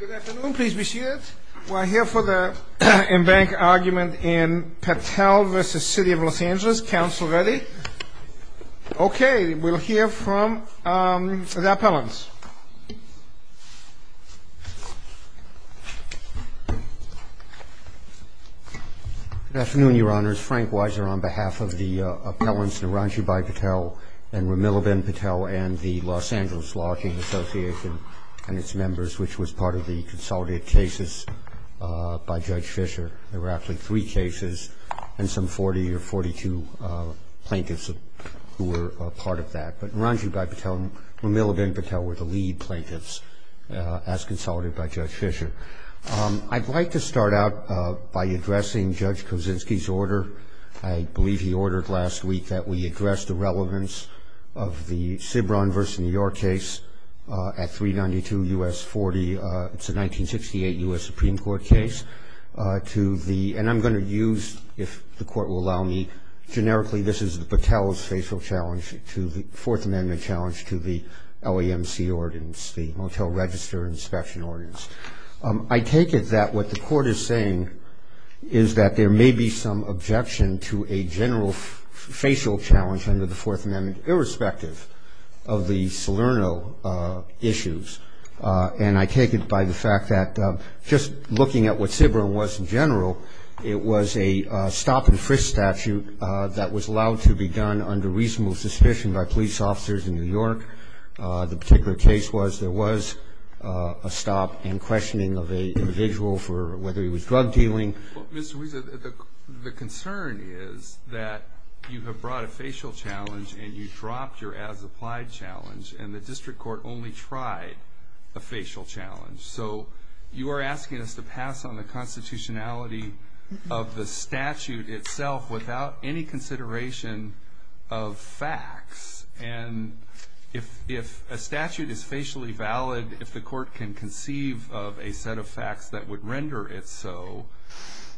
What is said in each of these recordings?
Good afternoon. Please be seated. We're here for the embankment argument in Patel v. City of Los Angeles. Council ready? Okay. We'll hear from the appellants. Good afternoon, Your Honors. Frank Weiser on behalf of the appellants Naranjibhai Patel and Ramilaben Patel and the Los Angeles Locking Association and its members, which was part of the consolidated cases by Judge Fischer. There were actually three cases and some 40 or 42 plaintiffs who were part of that. But Naranjibhai Patel and Ramilaben Patel were the lead plaintiffs as consolidated by Judge Fischer. I'd like to start out by addressing Judge Kosinski's order. I believe he ordered last week that we address the relevance of the Cibron v. New York case at 392 U.S. 40. It's a 1968 U.S. Supreme Court case. And I'm going to use, if the court will allow me, generically, this is Patel's facial challenge to the Fourth Amendment challenge to the LAMC ordinance, the Motel Register Inspection Ordinance. I take it that what the court is saying is that there may be some objection to a general facial challenge under the Fourth Amendment, irrespective of the Salerno issues. And I take it by the fact that just looking at what Cibron was in general, it was a stop-and-frisk statute that was allowed to be done under reasonable suspicion by police officers in New York. The particular case was there was a stop in questioning of an individual for whether he was drug dealing. Well, Mr. Weiser, the concern is that you have brought a facial challenge and you dropped your as-applied challenge, and the district court only tried a facial challenge. So you are asking us to pass on the constitutionality of the statute itself without any consideration of facts. And if a statute is facially valid, if the court can conceive of a set of facts that would render it so,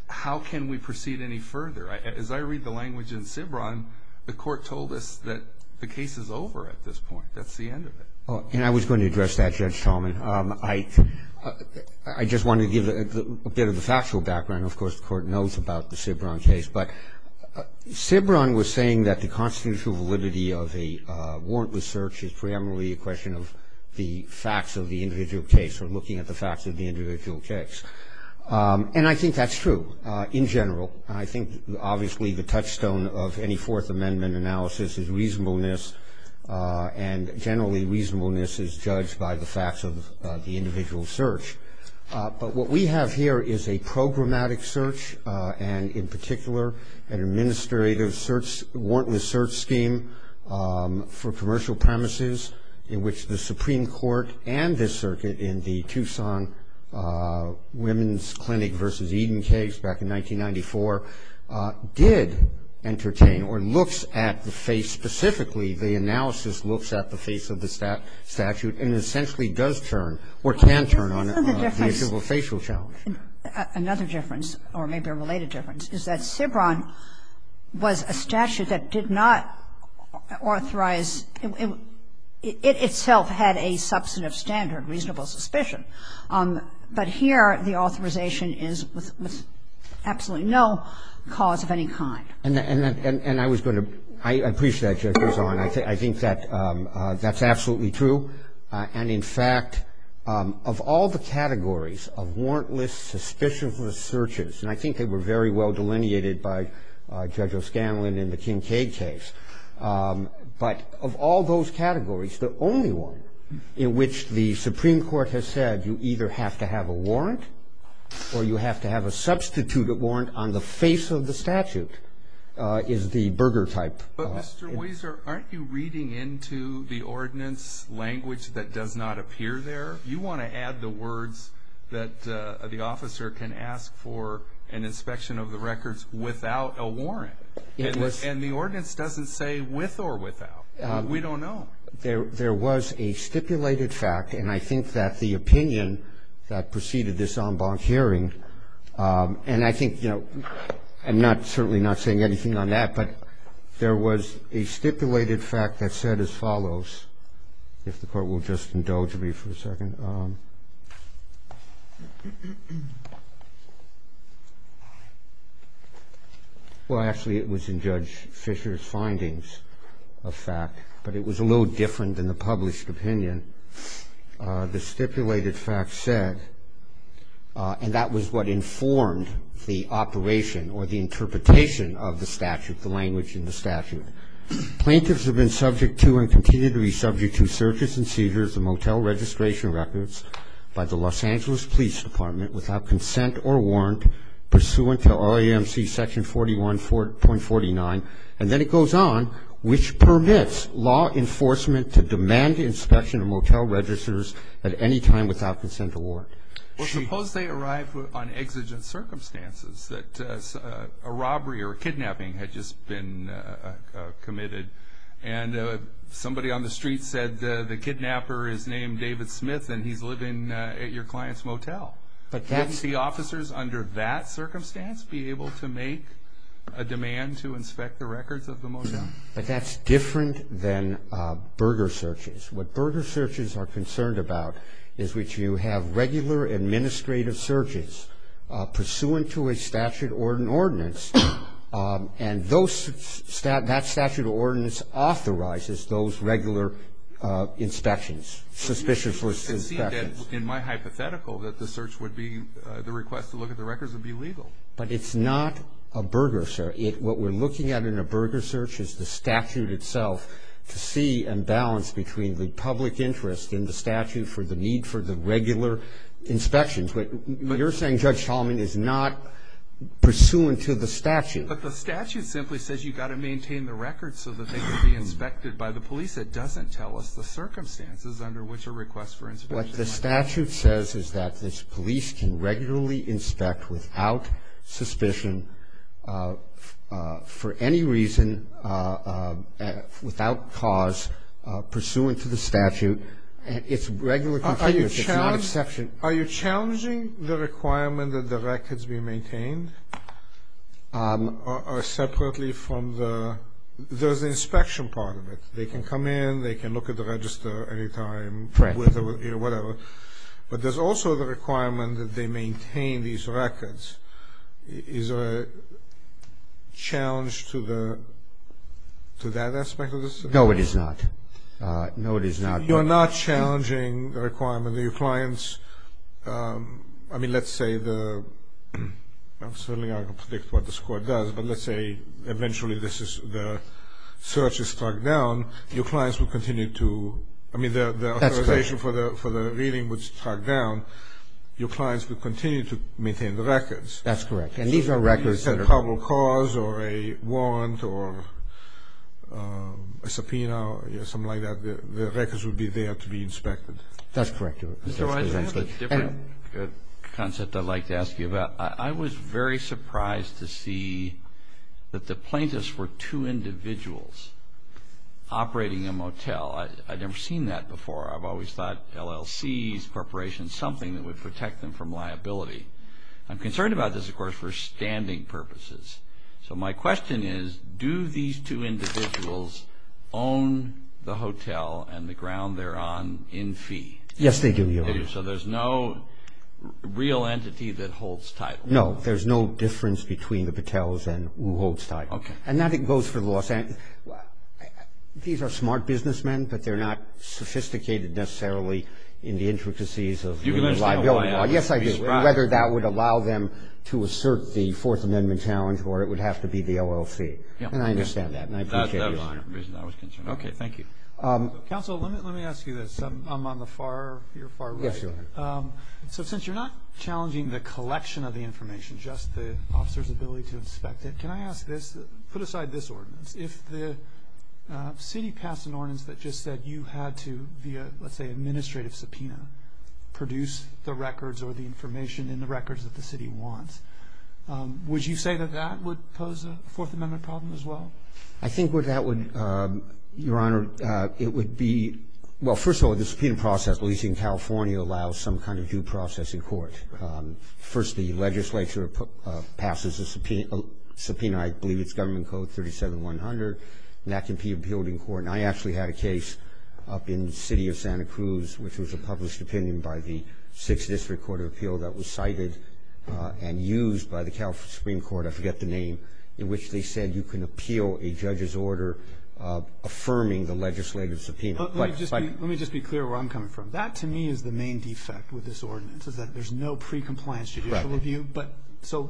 how can we proceed any further? As I read the language in Cibron, the court told us that the case is over at this point. That's the end of it. And I was going to address that, Judge Tallman. I just wanted to give a bit of a factual background. Of course, the court knows about the Cibron case. But Cibron was saying that the constitutional validity of a warrantless search is primarily a question of the facts of the individual case or looking at the facts of the individual case. And I think that's true in general. I think obviously the touchstone of any Fourth Amendment analysis is reasonableness, and generally reasonableness is judged by the facts of the individual search. But what we have here is a programmatic search and, in particular, an administrative warrantless search scheme for commercial premises in which the Supreme Court and this circuit in the Tucson Women's Clinic v. Eden case back in 1994 did entertain or looks at the face specifically, the analysis looks at the face of the statute and essentially does turn or can turn on the issue of a facial challenge. Another difference, or maybe a related difference, is that Cibron was a statute that did not authorize – it itself had a substantive standard, reasonable suspicion. But here the authorization is with absolutely no cause of any kind. And I was going to – I appreciate that, Justice O'Connor. I think that's absolutely true. And, in fact, of all the categories of warrantless, suspicious searches – and I think they were very well delineated by Judge O'Scanlan in the Kincaid case – but of all those categories, the only one in which the Supreme Court has said you either have to have a warrant or you have to have a substituted warrant on the face of the statute is the Berger type. But, Mr. Weiser, aren't you reading into the ordinance language that does not appear there? You want to add the words that the officer can ask for an inspection of the records without a warrant. And the ordinance doesn't say with or without. We don't know. There was a stipulated fact, and I think that the opinion that preceded this en banc hearing – and I think, you know, I'm certainly not saying anything on that – but there was a stipulated fact that said as follows – if the Court will just indulge me for a second. Well, actually, it was in Judge Fisher's findings of fact, but it was a little different than the published opinion. The stipulated fact said – and that was what informed the operation or the interpretation of the statute, the language in the statute – plaintiffs have been subject to and continue to be subject to searches and seizures of motel registration records by the Los Angeles Police Department without consent or warrant pursuant to REMC section 41.49. And then it goes on, which permits law enforcement to demand inspection of motel registers at any time without consent or warrant. Well, suppose they arrive on exigent circumstances, that a robbery or a kidnapping had just been committed, and somebody on the street said the kidnapper is named David Smith and he's living at your client's motel. Wouldn't the officers under that circumstance be able to make a demand to inspect the records of the motel? No, but that's different than burger searches. What burger searches are concerned about is which you have regular administrative searches pursuant to a statute or an ordinance, and that statute or ordinance authorizes those regular inspections, suspicion-first inspections. It would seem that, in my hypothetical, that the search would be – the request to look at the records would be legal. But it's not a burger search. What we're looking at in a burger search is the statute itself to see and balance between the public interest in the statute for the need for the regular inspections. You're saying Judge Tallman is not pursuant to the statute. But the statute simply says you've got to maintain the records so that they can be inspected by the police. It doesn't tell us the circumstances under which a request for inspection might be made. What the statute says is that this police can regularly inspect without suspicion for any reason, without cause, pursuant to the statute. It's regular configurations. It's not exception. Are you challenging the requirement that the records be maintained or separately from the – there's the inspection part of it. They can come in. They can look at the register any time. Correct. Whatever. But there's also the requirement that they maintain these records. Is there a challenge to that aspect of this? No, it is not. No, it is not. You're not challenging the requirement that your clients – I mean, let's say the – I mean, the authorization for the reading was tracked down. Your clients would continue to maintain the records. That's correct. And these are records that are – If you said probable cause or a warrant or a subpoena or something like that, the records would be there to be inspected. That's correct. Mr. Weiss, I have a different concept I'd like to ask you about. I was very surprised to see that the plaintiffs were two individuals operating a motel. I'd never seen that before. I've always thought LLCs, corporations, something that would protect them from liability. I'm concerned about this, of course, for standing purposes. So my question is, do these two individuals own the hotel and the ground they're on in fee? Yes, they do. They do. So there's no real entity that holds title. No, there's no difference between the hotels and who holds title. Okay. And that goes for the Los Angeles – these are smart businessmen, but they're not sophisticated necessarily in the intricacies of the liability law. You can understand why. Yes, I do, whether that would allow them to assert the Fourth Amendment challenge or it would have to be the LLC. And I understand that, and I appreciate it. That was the reason I was concerned. Okay. Thank you. Counsel, let me ask you this. I'm on the far – you're far right. Yes, Your Honor. So since you're not challenging the collection of the information, just the officer's ability to inspect it, can I ask this? Put aside this ordinance. If the city passed an ordinance that just said you had to, via, let's say, administrative subpoena, produce the records or the information in the records that the city wants, would you say that that would pose a Fourth Amendment problem as well? I think where that would, Your Honor, it would be – well, first of all, the subpoena process, at least in California, allows some kind of due process in court. First, the legislature passes a subpoena. I believe it's Government Code 37100, and that can be appealed in court. And I actually had a case up in the city of Santa Cruz, which was a published opinion by the Sixth District Court of Appeal that was cited and used by the California Supreme Court – I forget the name – in which they said you can appeal a judge's order affirming the legislative subpoena. Let me just be clear where I'm coming from. That, to me, is the main defect with this ordinance, is that there's no pre-compliance judicial review. Right.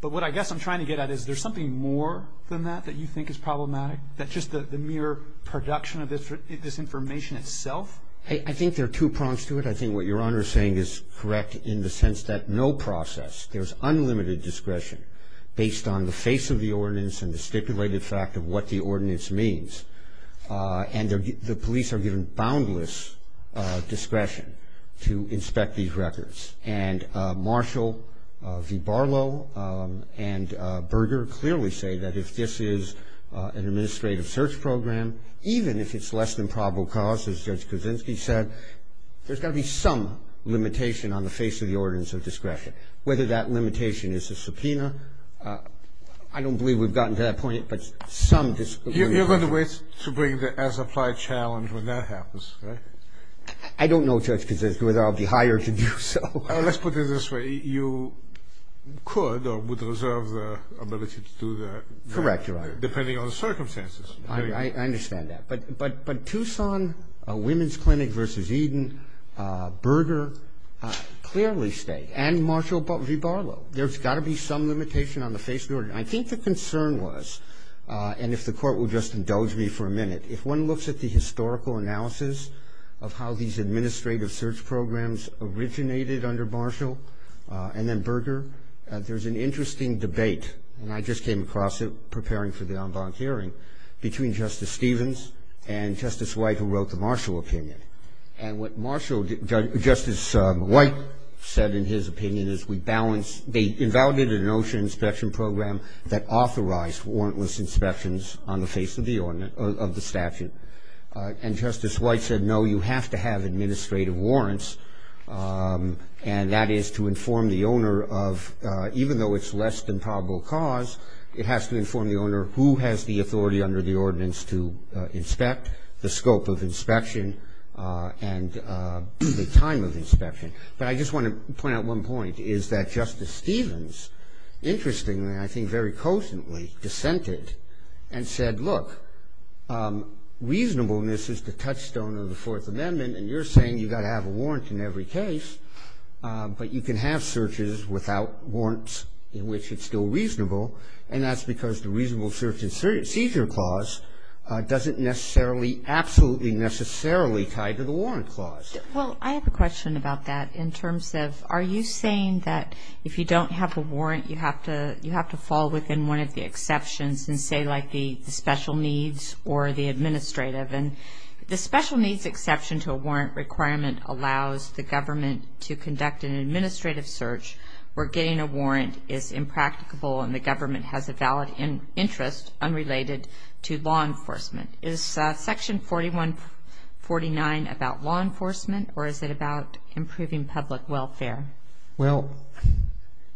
But what I guess I'm trying to get at is there's something more than that that you think is problematic? That just the mere production of this information itself? I think there are two prongs to it. I think what Your Honor is saying is correct in the sense that no process – there's unlimited discretion based on the face of the ordinance and the stipulated fact of what the ordinance means. And the police are given boundless discretion to inspect these records. And Marshall v. Barlow and Berger clearly say that if this is an administrative search program, even if it's less than probable cause, as Judge Kuczynski said, there's got to be some limitation on the face of the ordinance of discretion, whether that limitation is a subpoena. I don't believe we've gotten to that point, but some dis- You're going to wait to bring the as-applied challenge when that happens, right? I don't know, Judge Kuczynski, whether I'll be hired to do so. Let's put it this way. You could or would reserve the ability to do that. Correct, Your Honor. Depending on the circumstances. I understand that. But Tucson Women's Clinic v. Eden, Berger clearly state, and Marshall v. Barlow, there's got to be some limitation on the face of the ordinance. I think the concern was, and if the Court will just indulge me for a minute, if one looks at the historical analysis of how these administrative search programs originated under Marshall and then Berger, there's an interesting debate, and I just came across it preparing for the en banc hearing, between Justice Stevens and Justice White, who wrote the Marshall opinion. And what Justice White said in his opinion is, we invalidated an OSHA inspection program that authorized warrantless inspections on the face of the statute. And Justice White said, no, you have to have administrative warrants, and that is to inform the owner of, even though it's less than probable cause, it has to inform the owner who has the authority under the ordinance to inspect, the scope of inspection, and the time of inspection. But I just want to point out one point, is that Justice Stevens, interestingly, and I think very cogently, dissented and said, look, reasonableness is the touchstone of the Fourth Amendment, and you're saying you've got to have a warrant in every case, but you can have searches without warrants in which it's still reasonable, and that's because the reasonable search and seizure clause doesn't necessarily, absolutely necessarily tie to the warrant clause. Well, I have a question about that in terms of, are you saying that if you don't have a warrant, you have to fall within one of the exceptions, and say like the special needs or the administrative? And the special needs exception to a warrant requirement allows the government to conduct an administrative search where getting a warrant is impracticable and the government has a valid interest unrelated to law enforcement. Is Section 4149 about law enforcement, or is it about improving public welfare? Well,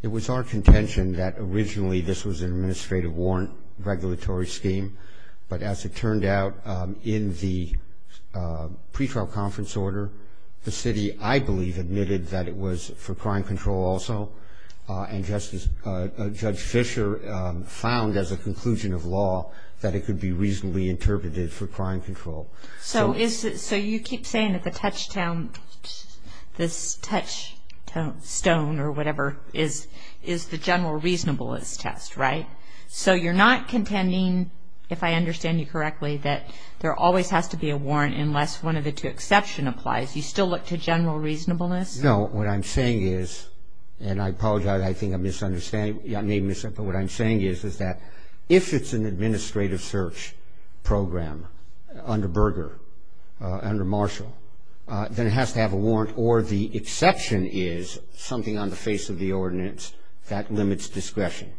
it was our contention that originally this was an administrative warrant regulatory scheme, but as it turned out in the pretrial conference order, the city, I believe, admitted that it was for crime control also, and Judge Fischer found as a conclusion of law that it could be reasonably interpreted for crime control. So you keep saying that the touchstone or whatever is the general reasonableness test, right? So you're not contending, if I understand you correctly, that there always has to be a warrant unless one of the two exceptions applies. You still look to general reasonableness? No. What I'm saying is, and I apologize, I think I'm misunderstanding. I may have misunderstood. But what I'm saying is that if it's an administrative search program under Berger, under Marshall, then it has to have a warrant, or the exception is something on the face of the ordinance that limits discretion.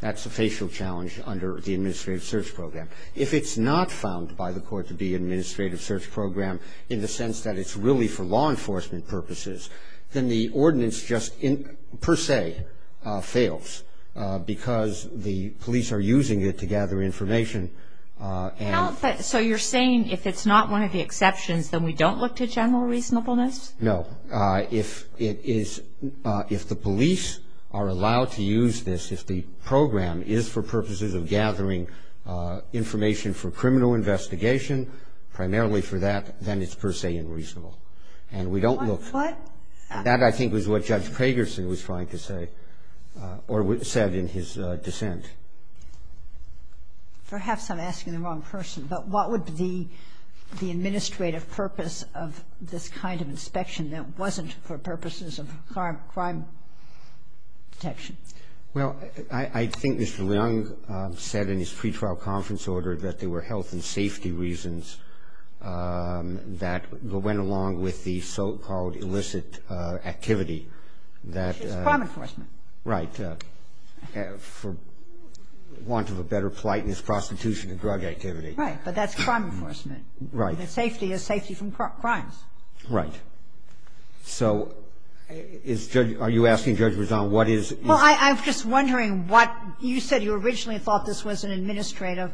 That's a facial challenge under the administrative search program. If it's not found by the court to be an administrative search program, in the sense that it's really for law enforcement purposes, then the ordinance just per se fails because the police are using it to gather information. So you're saying if it's not one of the exceptions, then we don't look to general reasonableness? No. If it is – if the police are allowed to use this, if the program is for purposes of gathering information for criminal investigation, primarily for that, then it's per se unreasonable. And we don't look. What? That, I think, was what Judge Pagerson was trying to say, or said in his dissent. Perhaps I'm asking the wrong person. But what would be the administrative purpose of this kind of inspection that wasn't for purposes of crime detection? Well, I think Mr. Leung said in his pretrial conference order that there were health and safety reasons that went along with the so-called illicit activity that – Which is crime enforcement. Right. For want of a better plightness, prostitution and drug activity. Right. But that's crime enforcement. Right. The safety is safety from crimes. Right. So is Judge – are you asking Judge Rezaan what is – Well, I'm just wondering what – you said you originally thought this was an administrative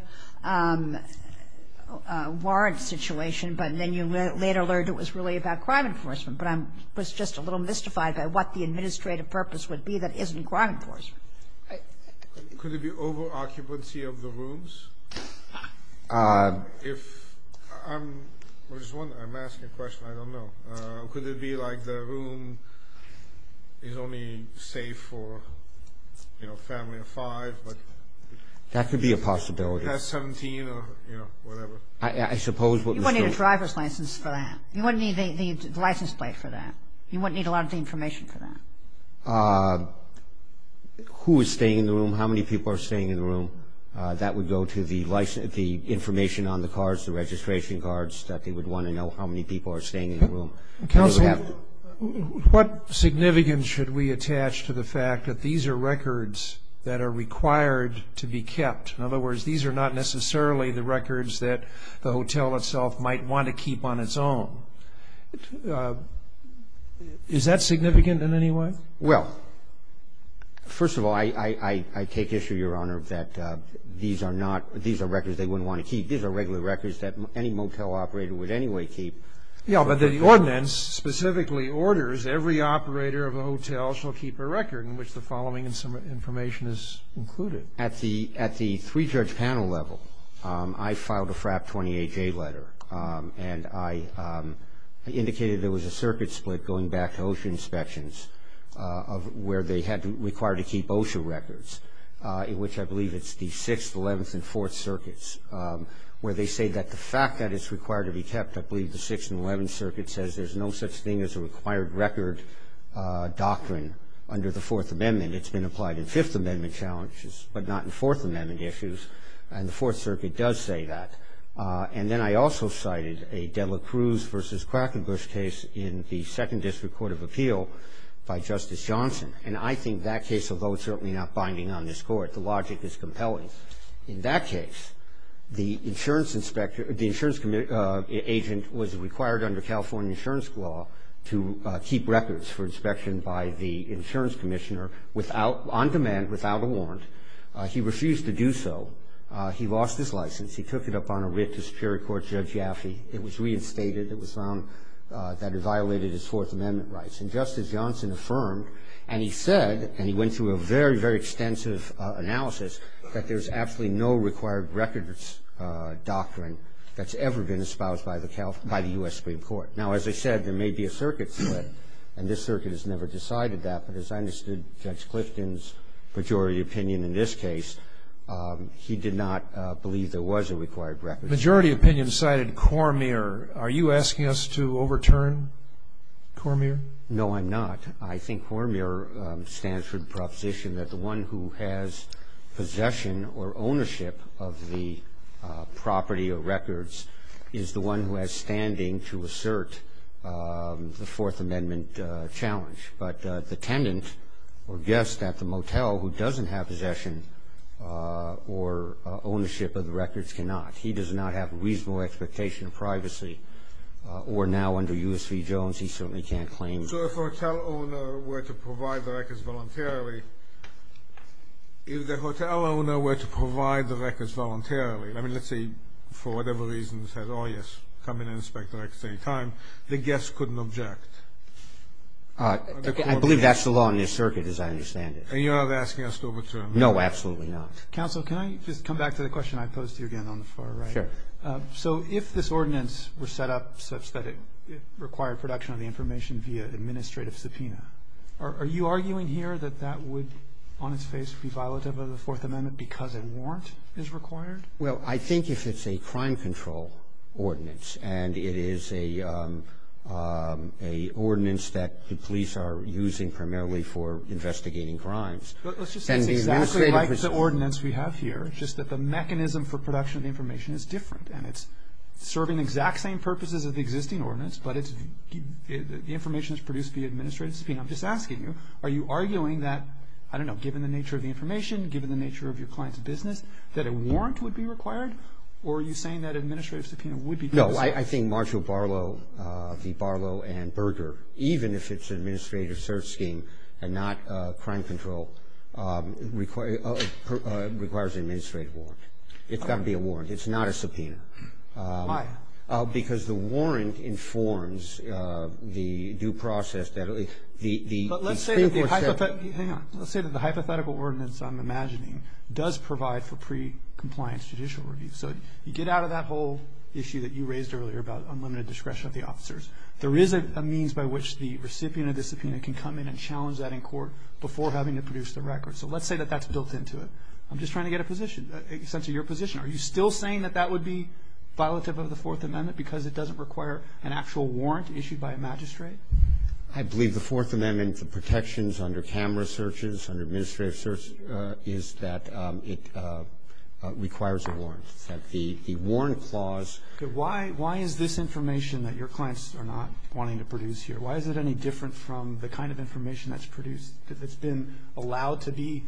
warrant situation, but then you later learned it was really about crime enforcement. But I was just a little mystified by what the administrative purpose would be that isn't crime enforcement. Could it be over-occupancy of the rooms? If – I'm just wondering. I'm asking a question. I don't know. Could it be like the room is only safe for, you know, a family of five? That could be a possibility. Past 17 or, you know, whatever. I suppose what Mr. – You wouldn't need a driver's license for that. You wouldn't need the license plate for that. You wouldn't need a lot of the information for that. Who is staying in the room? How many people are staying in the room? That would go to the information on the cards, the registration cards, that they would want to know how many people are staying in the room. Counsel, what significance should we attach to the fact that these are records that are required to be kept? In other words, these are not necessarily the records that the hotel itself might want to keep on its own. Is that significant in any way? Well, first of all, I take issue, Your Honor, that these are not – these are records they wouldn't want to keep. These are regular records that any motel operator would anyway keep. Yeah, but the ordinance specifically orders every operator of a hotel shall keep a record in which the following information is included. At the three-judge panel level, I filed a FRAP 28-J letter, and I indicated there was a circuit split going back to OSHA inspections where they had to require to keep OSHA records, which I believe it's the Sixth, Eleventh, and Fourth Circuits, where they say that the fact that it's required to be kept, I believe the Sixth and Eleventh Circuit says there's no such thing as a required record doctrine under the Fourth Amendment. It's been applied in Fifth Amendment challenges, but not in Fourth Amendment issues, and the Fourth Circuit does say that. And then I also cited a Dela Cruz v. Crackenbush case in the Second District Court of Appeal by Justice Johnson, and I think that case, although it's certainly not binding on this Court, the logic is compelling. In that case, the insurance inspector – the insurance agent was required under California insurance law to keep records for inspection by the insurance commissioner without – on demand, without a warrant. He refused to do so. He lost his license. He took it up on a writ to Superior Court Judge Yaffe. It was reinstated. It was found that it violated his Fourth Amendment rights. And Justice Johnson affirmed, and he said, and he went through a very, very extensive analysis, that there's absolutely no required records doctrine that's ever been espoused by the U.S. Supreme Court. Now, as I said, there may be a circuit split, and this circuit has never decided that, but as I understood Judge Clifton's pejorative opinion in this case, he did not believe there was a required record. Majority opinion cited Cormier. Are you asking us to overturn Cormier? No, I'm not. I think Cormier stands for the proposition that the one who has possession or ownership of the property or records is the one who has standing to assert the Fourth Amendment challenge. But the tenant or guest at the motel who doesn't have possession or ownership of the records cannot. He does not have a reasonable expectation of privacy. Or now under U.S. v. Jones, he certainly can't claim that. So if a hotel owner were to provide the records voluntarily, if the hotel owner were to provide the records voluntarily, I mean, let's say for whatever reason said, oh, yes, come in and inspect the records at any time, the guest couldn't object. I believe that's the law in this circuit as I understand it. And you're not asking us to overturn it? No, absolutely not. Counsel, can I just come back to the question I posed to you again on the far right? Sure. So if this ordinance were set up such that it required production of the information via administrative subpoena, are you arguing here that that would on its face be violative of the Fourth Amendment because a warrant is required? Well, I think if it's a crime control ordinance, and it is an ordinance that the police are using primarily for investigating crimes. Let's just say it's exactly like the ordinance we have here, just that the mechanism for production of information is different. And it's serving the exact same purposes of the existing ordinance, but the information is produced via administrative subpoena. I'm just asking you, are you arguing that, I don't know, given the nature of the information, given the nature of your client's business, that a warrant would be required? Or are you saying that an administrative subpoena would be justified? No. I think Marshall Barlow, the Barlow and Berger, even if it's an administrative search scheme and not a crime control, requires an administrative warrant. It's got to be a warrant. It's not a subpoena. Why? Because the warrant informs the due process that the Supreme Court said. Hang on. Let's say that the hypothetical ordinance I'm imagining does provide for pre-compliance judicial review. So you get out of that whole issue that you raised earlier about unlimited discretion of the officers. There is a means by which the recipient of the subpoena can come in and challenge that in court before having to produce the record. So let's say that that's built into it. I'm just trying to get a position, a sense of your position. Are you still saying that that would be violative of the Fourth Amendment because it doesn't require an actual warrant issued by a magistrate? I believe the Fourth Amendment protections under camera searches, under administrative searches, is that it requires a warrant. The warrant clause. Okay. Why is this information that your clients are not wanting to produce here, why is it any different from the kind of information that's produced, that's been allowed to be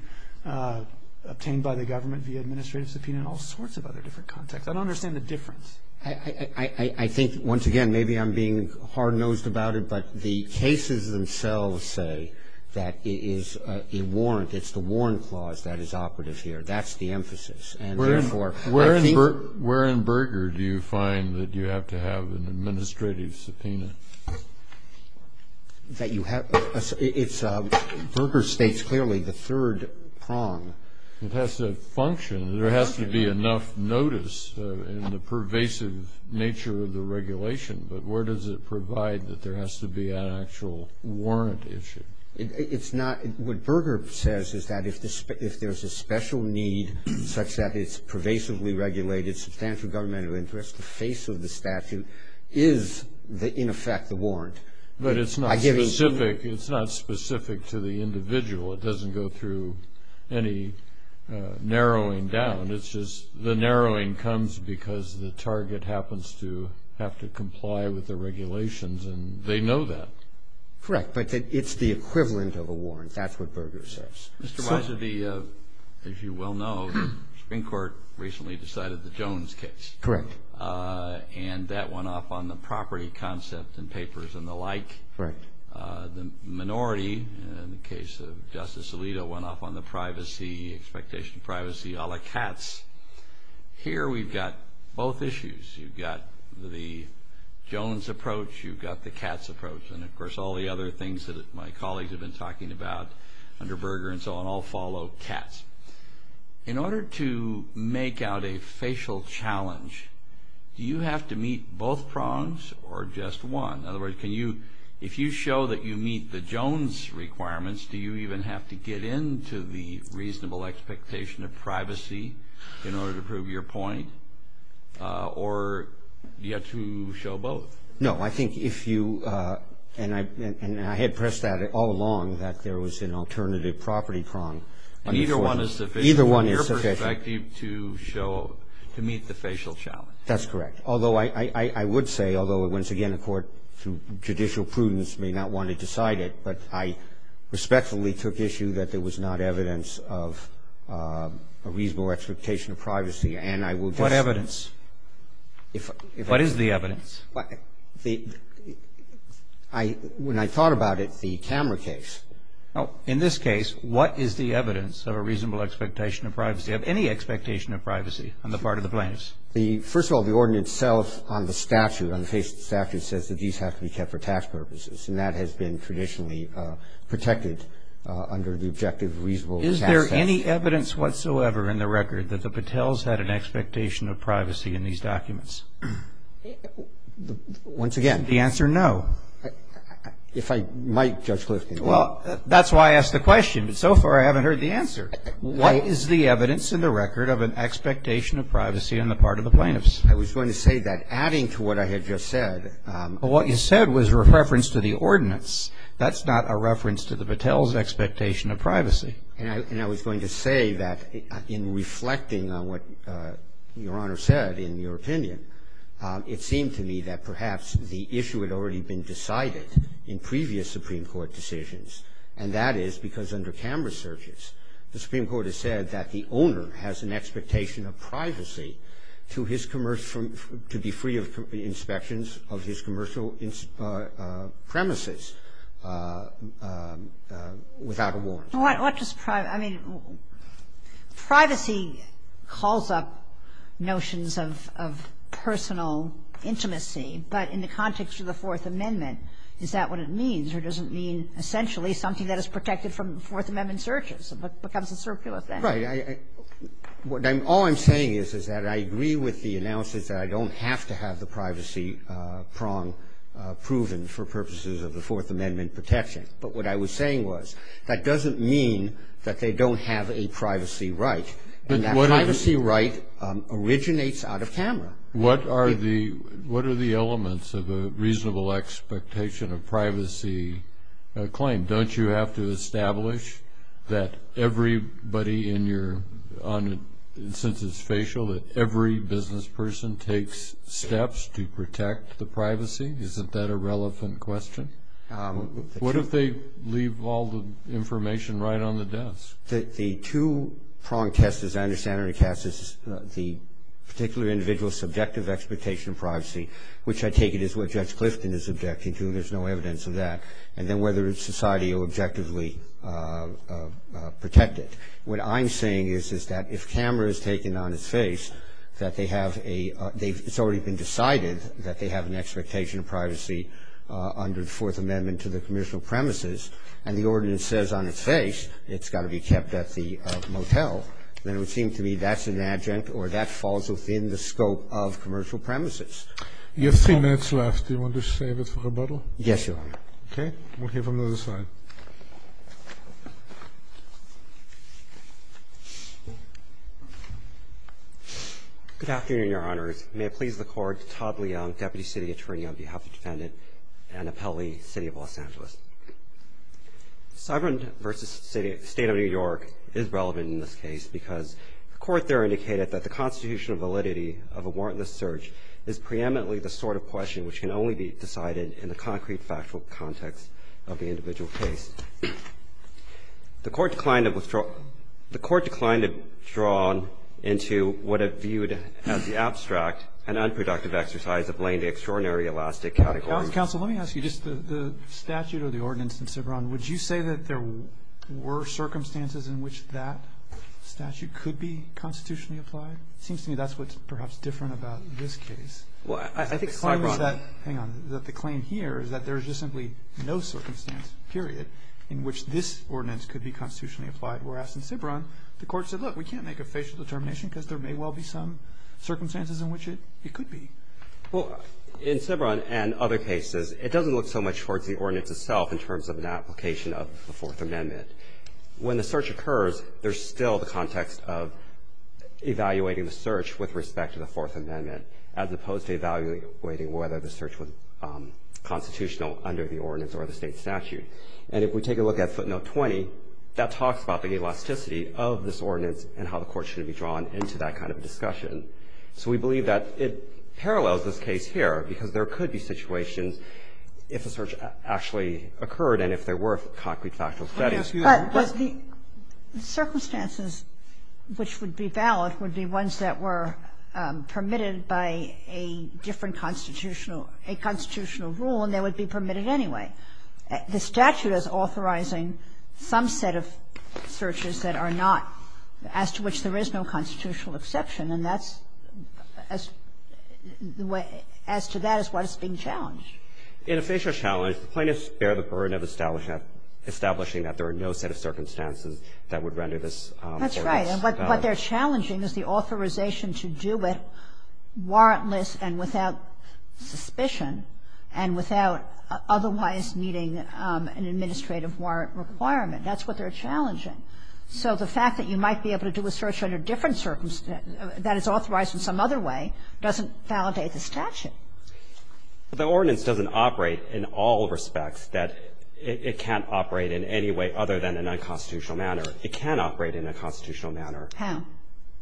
obtained by the government via administrative subpoena in all sorts of other different contexts? I don't understand the difference. I think, once again, maybe I'm being hard-nosed about it, but the cases themselves say that it is a warrant. It's the warrant clause that is operative here. That's the emphasis. And, therefore, I think we're in Burger. Where in Burger do you find that you have to have an administrative subpoena? That you have to have a subpoena. Burger states clearly the third prong. It has to function. There has to be enough notice in the pervasive nature of the regulation, but where does it provide that there has to be an actual warrant issue? What Burger says is that if there's a special need such that it's pervasively regulated, substantial governmental interest, the face of the statute is, in effect, the warrant. But it's not specific. It's not specific to the individual. It doesn't go through any narrowing down. It's just the narrowing comes because the target happens to have to comply with the regulations, and they know that. Correct, but it's the equivalent of a warrant. That's what Burger says. Mr. Wiser, as you well know, Supreme Court recently decided the Jones case. Correct. And that went off on the property concept and papers and the like. Correct. The minority, in the case of Justice Alito, went off on the privacy, expectation of privacy a la Katz. Here we've got both issues. You've got the Jones approach. You've got the Katz approach. And, of course, all the other things that my colleagues have been talking about under Burger and so on all follow Katz. In order to make out a facial challenge, do you have to meet both prongs or just one? In other words, if you show that you meet the Jones requirements, do you even have to get into the reasonable expectation of privacy in order to prove your point? Or do you have to show both? No, I think if you – and I had pressed that all along, that there was an alternative property prong. Either one is sufficient from your perspective to meet the facial challenge. That's correct. Although I would say, although once again the court, through judicial prudence, may not want to decide it, but I respectfully took issue that there was not evidence of a reasonable expectation of privacy. What evidence? What is the evidence? When I thought about it, the camera case. In this case, what is the evidence of a reasonable expectation of privacy, of any expectation of privacy on the part of the plaintiffs? First of all, the ordinance itself on the statute, on the face of the statute, says that these have to be kept for tax purposes. And that has been traditionally protected under the objective of reasonable tax statute. Is there any evidence whatsoever in the record that the Patels had an expectation of privacy in these documents? Once again. The answer, no. If I might, Judge Kliff, can you? Well, that's why I asked the question. But so far I haven't heard the answer. What is the evidence in the record of an expectation of privacy on the part of the plaintiffs? I was going to say that adding to what I had just said. Well, what you said was a reference to the ordinance. That's not a reference to the Patels' expectation of privacy. And I was going to say that in reflecting on what Your Honor said in your opinion, it seemed to me that perhaps the issue had already been decided in previous Supreme Court decisions, and that is because under camera searches, the Supreme Court has said that the owner has an expectation of privacy to his commercial, to be free of inspections of his commercial premises without a warrant. Well, what does privacy mean? Privacy calls up notions of personal intimacy, but in the context of the Fourth Amendment, is that what it means? Or does it mean essentially something that is protected from Fourth Amendment searches? It becomes a circular thing. Right. All I'm saying is, is that I agree with the analysis that I don't have to have the privacy prong proven for purposes of the Fourth Amendment protection. But what I was saying was that doesn't mean that they don't have a privacy right. And that privacy right originates out of camera. What are the elements of a reasonable expectation of privacy claim? Don't you have to establish that everybody in your, since it's facial, that every business person takes steps to protect the privacy? Isn't that a relevant question? What if they leave all the information right on the desk? The two-prong test, as I understand it, Cass, is the particular individual's subjective expectation of privacy, which I take it is what Judge Clifton is objecting to. There's no evidence of that. And then whether society will objectively protect it. What I'm saying is, is that if camera is taken on its face, that they have a – it's already been decided that they have an expectation of privacy under the Fourth Amendment to the commercial premises. And the ordinance says on its face it's got to be kept at the motel, then it would seem to me that's an adjunct or that falls within the scope of commercial premises. You have three minutes left. Do you want to save it for rebuttal? Yes, Your Honor. Okay. We'll hear from the other side. Good afternoon, Your Honors. The court there indicated that the constitutional validity of a warrantless search is preeminently the sort of question which can only be decided in the concrete factual context of the individual case. The court declined to withdraw – the court declined to draw into what it viewed as the abstract and unproductive exercise of laying the extraordinary elastic category. Counsel, let me ask you. Just the statute or the ordinance in Ciberon, would you say that there were circumstances in which that statute could be constitutionally applied? It seems to me that's what's perhaps different about this case. Well, I think – Hang on. The claim here is that there is just simply no circumstance, period, in which this ordinance could be constitutionally applied. Whereas in Ciberon, the court said, look, we can't make a facial determination because there may well be some circumstances in which it could be. Well, in Ciberon and other cases, it doesn't look so much towards the ordinance itself in terms of an application of the Fourth Amendment. When the search occurs, there's still the context of evaluating the search with respect to the Fourth Amendment, as opposed to evaluating whether the search was constitutional under the ordinance or the state statute. And if we take a look at footnote 20, that talks about the elasticity of this into that kind of discussion. So we believe that it parallels this case here, because there could be situations if a search actually occurred and if there were concrete factual studies. But the circumstances which would be valid would be ones that were permitted by a different constitutional – a constitutional rule, and they would be permitted anyway. The statute is authorizing some set of searches that are not – as to which there is no constitutional exception, and that's – as to that is what is being challenged. In a facial challenge, plaintiffs bear the burden of establishing that there are no set of circumstances that would render this ordinance valid. That's right. And what they're challenging is the authorization to do it warrantless and without suspicion and without otherwise meeting an administrative warrant requirement. That's what they're challenging. So the fact that you might be able to do a search under different – that is authorized in some other way doesn't validate the statute. The ordinance doesn't operate in all respects that it can't operate in any way other than in a nonconstitutional manner. It can operate in a constitutional manner. How?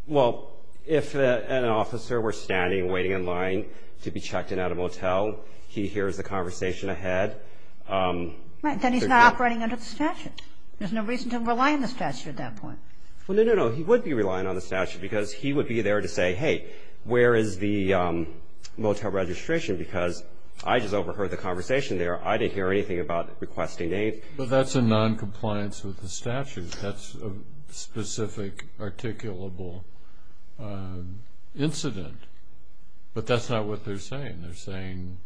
Well, if an officer were standing, waiting in line to be checked in at a motel, he hears the conversation ahead. Right. Then he's not operating under the statute. There's no reason to rely on the statute at that point. Well, no, no, no. He would be relying on the statute because he would be there to say, hey, where is the motel registration because I just overheard the conversation there. I didn't hear anything about requesting names. But that's a noncompliance with the statute. That's a specific articulable incident. But that's not what they're saying. They're saying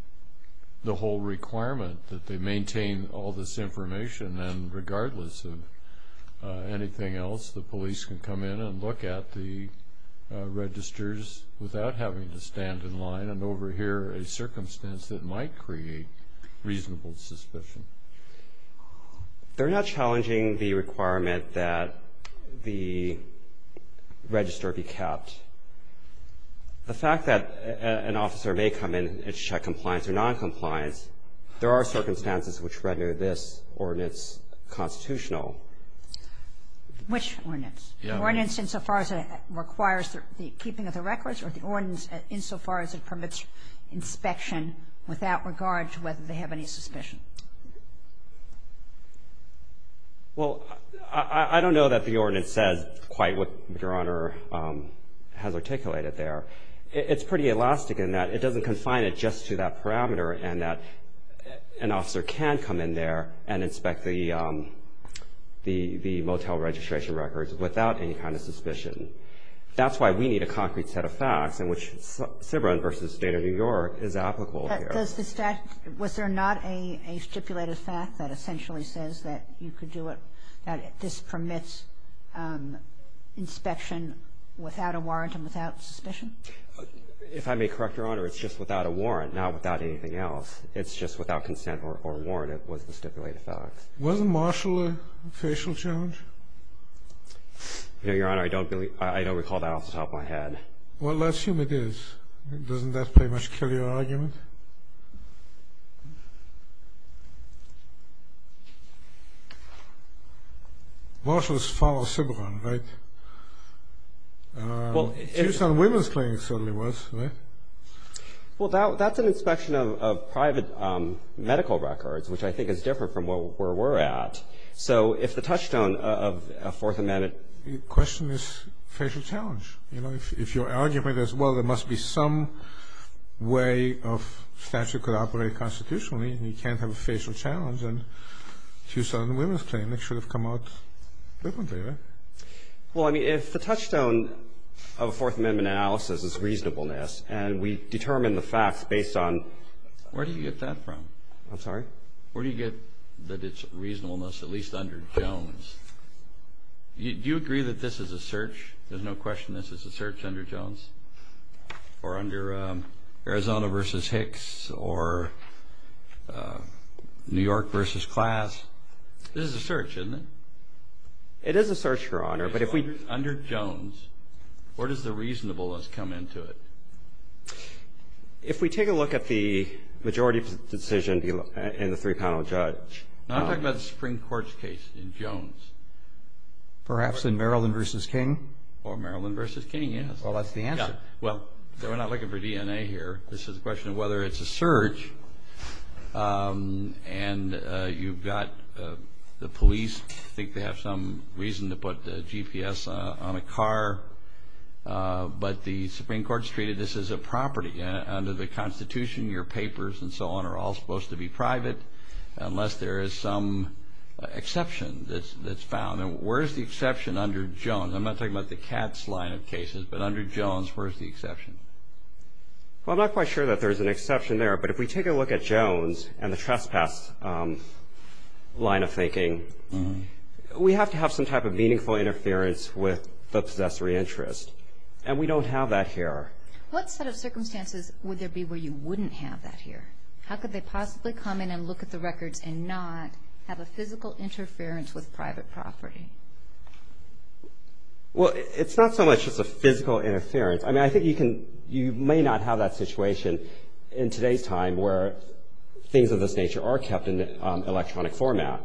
the whole requirement that they maintain all this information and regardless of anything else, the police can come in and look at the registers without having to stand in line and overhear a circumstance that might create reasonable suspicion. They're not challenging the requirement that the register be kept. The fact that an officer may come in and check compliance or noncompliance, there are circumstances which render this ordinance constitutional. Which ordinance? The ordinance insofar as it requires the keeping of the records or the ordinance insofar as it permits inspection without regard to whether they have any suspicion? Well, I don't know that the ordinance says quite what Your Honor has articulated there. It's pretty elastic in that it doesn't confine it just to that parameter and that an officer can come in there and inspect the motel registration records without any kind of suspicion. That's why we need a concrete set of facts in which CBRN versus State of New York is applicable here. Was there not a stipulated fact that essentially says that you could do it, that this permits inspection without a warrant and without suspicion? If I may correct, Your Honor, it's just without a warrant, not without anything else. It's just without consent or warrant. It was the stipulated fact. Wasn't Marshall a facial challenge? No, Your Honor. I don't believe that. I don't recall that off the top of my head. Well, let's assume it is. Doesn't that pretty much kill your argument? Marshall's father was CBRN, right? Tucson Women's Clinic certainly was, right? Well, that's an inspection of private medical records, which I think is different from where we're at. So if the touchstone of a Fourth Amendment question is facial challenge, you know, if your argument is, well, there must be some way of statute could operate constitutionally, and you can't have a facial challenge, then Tucson Women's Clinic should have come out differently, right? Well, I mean, if the touchstone of a Fourth Amendment analysis is reasonableness and we determine the facts based on – Where do you get that from? I'm sorry? Where do you get that it's reasonableness, at least under Jones? Do you agree that this is a search? There's no question this is a search under Jones or under Arizona v. Hicks or New York v. Class. This is a search, isn't it? It is a search, Your Honor, but if we – Under Jones, where does the reasonableness come into it? If we take a look at the majority decision in the three-panel judge – Perhaps in Maryland v. King? Or Maryland v. King, yes. Well, that's the answer. Well, we're not looking for DNA here. This is a question of whether it's a search, and you've got the police. I think they have some reason to put the GPS on a car, but the Supreme Court's treated this as a property. unless there is some exception that's found. And where's the exception under Jones? I'm not talking about the Katz line of cases, but under Jones, where's the exception? Well, I'm not quite sure that there's an exception there, but if we take a look at Jones and the trespass line of thinking, we have to have some type of meaningful interference with the possessory interest, and we don't have that here. What set of circumstances would there be where you wouldn't have that here? How could they possibly come in and look at the records and not have a physical interference with private property? Well, it's not so much just a physical interference. I mean, I think you may not have that situation in today's time where things of this nature are kept in electronic format.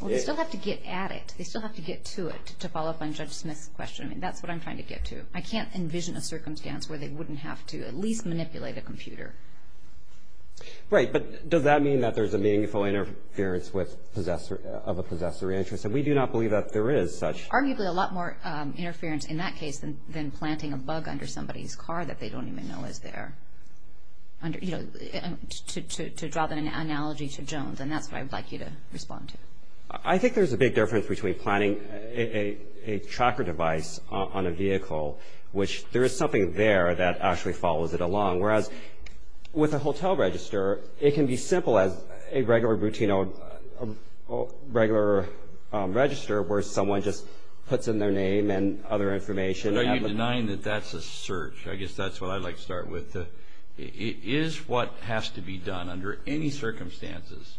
Well, they still have to get at it. They still have to get to it, to follow up on Judge Smith's question. I mean, that's what I'm trying to get to. I can't envision a circumstance where they wouldn't have to at least manipulate a computer. Right, but does that mean that there's a meaningful interference of a possessory interest? And we do not believe that there is such. Arguably a lot more interference in that case than planting a bug under somebody's car that they don't even know is there, you know, to draw that analogy to Jones, and that's what I'd like you to respond to. I think there's a big difference between planting a tracker device on a vehicle, which there is something there that actually follows it along, whereas with a hotel register, it can be simple as a regular, routine, regular register where someone just puts in their name and other information. Are you denying that that's a search? I guess that's what I'd like to start with. Is what has to be done under any circumstances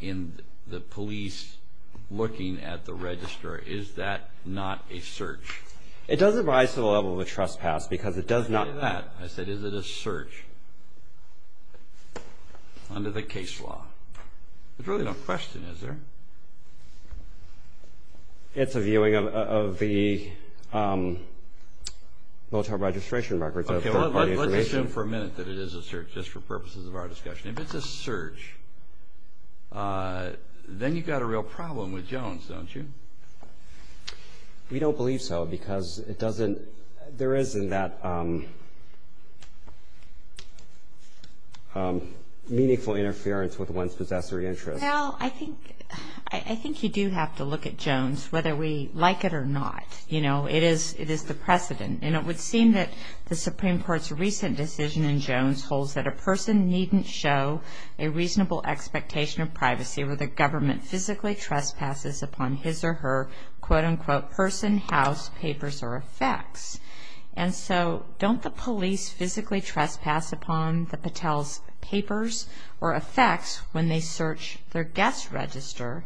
in the police looking at the register, is that not a search? It doesn't rise to the level of a trespass because it does not. I said is it a search under the case law? There's really no question, is there? It's a viewing of the military registration records. Okay, let's assume for a minute that it is a search, just for purposes of our discussion. If it's a search, then you've got a real problem with Jones, don't you? We don't believe so because there isn't that meaningful interference with one's possessory interest. Well, I think you do have to look at Jones, whether we like it or not. It is the precedent, and it would seem that the Supreme Court's recent decision in Jones holds that a person needn't show a reasonable expectation of privacy where the government physically trespasses upon his or her, quote-unquote, person, house, papers, or effects. And so don't the police physically trespass upon the patel's papers or effects when they search their guest register?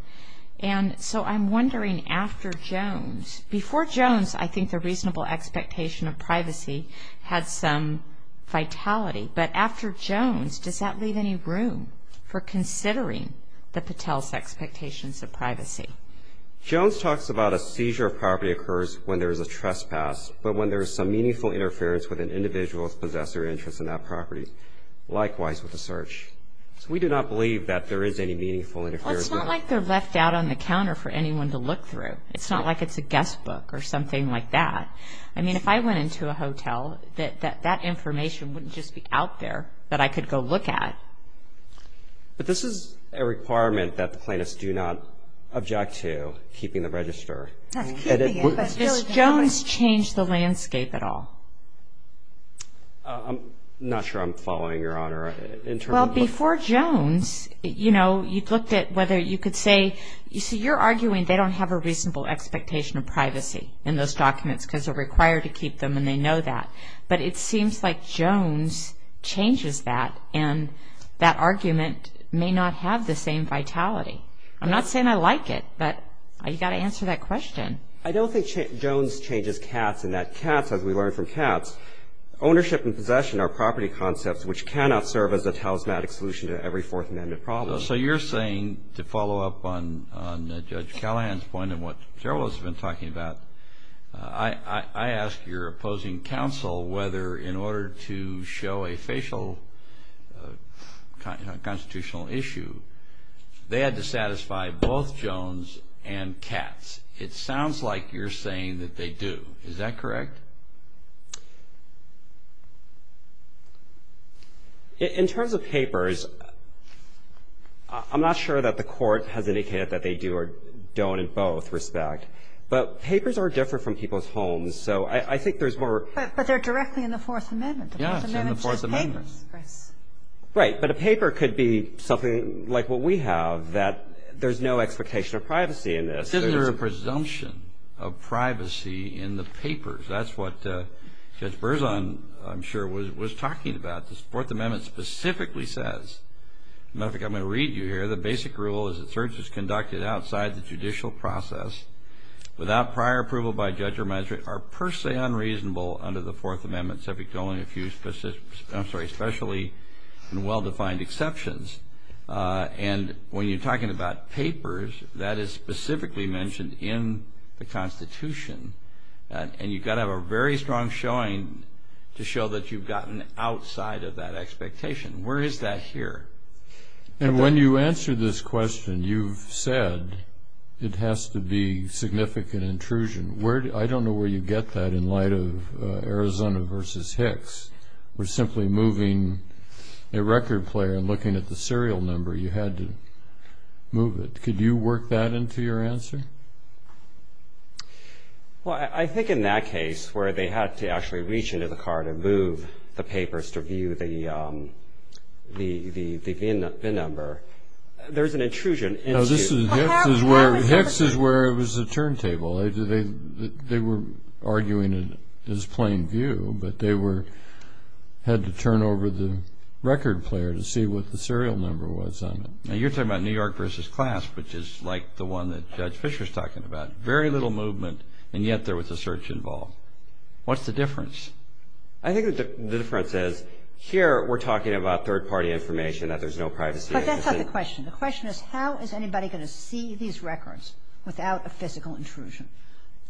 And so I'm wondering after Jones, before Jones, I think the reasonable expectation of privacy had some vitality. But after Jones, does that leave any room for considering the patel's expectations of privacy? Jones talks about a seizure of property occurs when there is a trespass, but when there is some meaningful interference with an individual's possessory interest in that property, likewise with a search. So we do not believe that there is any meaningful interference. Well, it's not like they're left out on the counter for anyone to look through. It's not like it's a guest book or something like that. I mean, if I went into a hotel, that information wouldn't just be out there that I could go look at. But this is a requirement that the plaintiffs do not object to, keeping the register. If Jones changed the landscape at all. I'm not sure I'm following, Your Honor. Well, before Jones, you know, you looked at whether you could say, you see, you're arguing they don't have a reasonable expectation of privacy in those documents because they're required to keep them and they know that. But it seems like Jones changes that, and that argument may not have the same vitality. I'm not saying I like it, but you've got to answer that question. I don't think Jones changes Katz, and that Katz, as we learned from Katz, ownership and possession are property concepts which cannot serve as a talismanic solution to every Fourth Amendment problem. So you're saying, to follow up on Judge Callahan's point and what Gerald has been talking about, I ask your opposing counsel whether, in order to show a facial constitutional issue, they had to satisfy both Jones and Katz. It sounds like you're saying that they do. Is that correct? In terms of papers, I'm not sure that the Court has indicated that they do or don't in both respect. But papers are different from people's homes, so I think there's more. But they're directly in the Fourth Amendment. Yeah, it's in the Fourth Amendment. Right. But a paper could be something like what we have, that there's no expectation of privacy in this. But isn't there a presumption of privacy in the papers? That's what Judge Berzon, I'm sure, was talking about. The Fourth Amendment specifically says, and I think I'm going to read you here, the basic rule is that searches conducted outside the judicial process, without prior approval by judge or magistrate, are per se unreasonable under the Fourth Amendment, except with only a few specially and well-defined exceptions. And when you're talking about papers, that is specifically mentioned in the Constitution. And you've got to have a very strong showing to show that you've gotten outside of that expectation. Where is that here? And when you answer this question, you've said it has to be significant intrusion. I don't know where you get that in light of Arizona v. Hicks, where simply moving a record player and looking at the serial number, you had to move it. Could you work that into your answer? Well, I think in that case, where they had to actually reach into the card and move the papers to view the VIN number, there's an intrusion into it. Hicks is where it was a turntable. They were arguing it as plain view, but they had to turn over the record player to see what the serial number was on it. Now, you're talking about New York v. Clasp, which is like the one that Judge Fischer is talking about. Very little movement, and yet there was a search involved. What's the difference? I think the difference is here we're talking about third-party information, that there's no privacy. But that's not the question. The question is how is anybody going to see these records without a physical intrusion?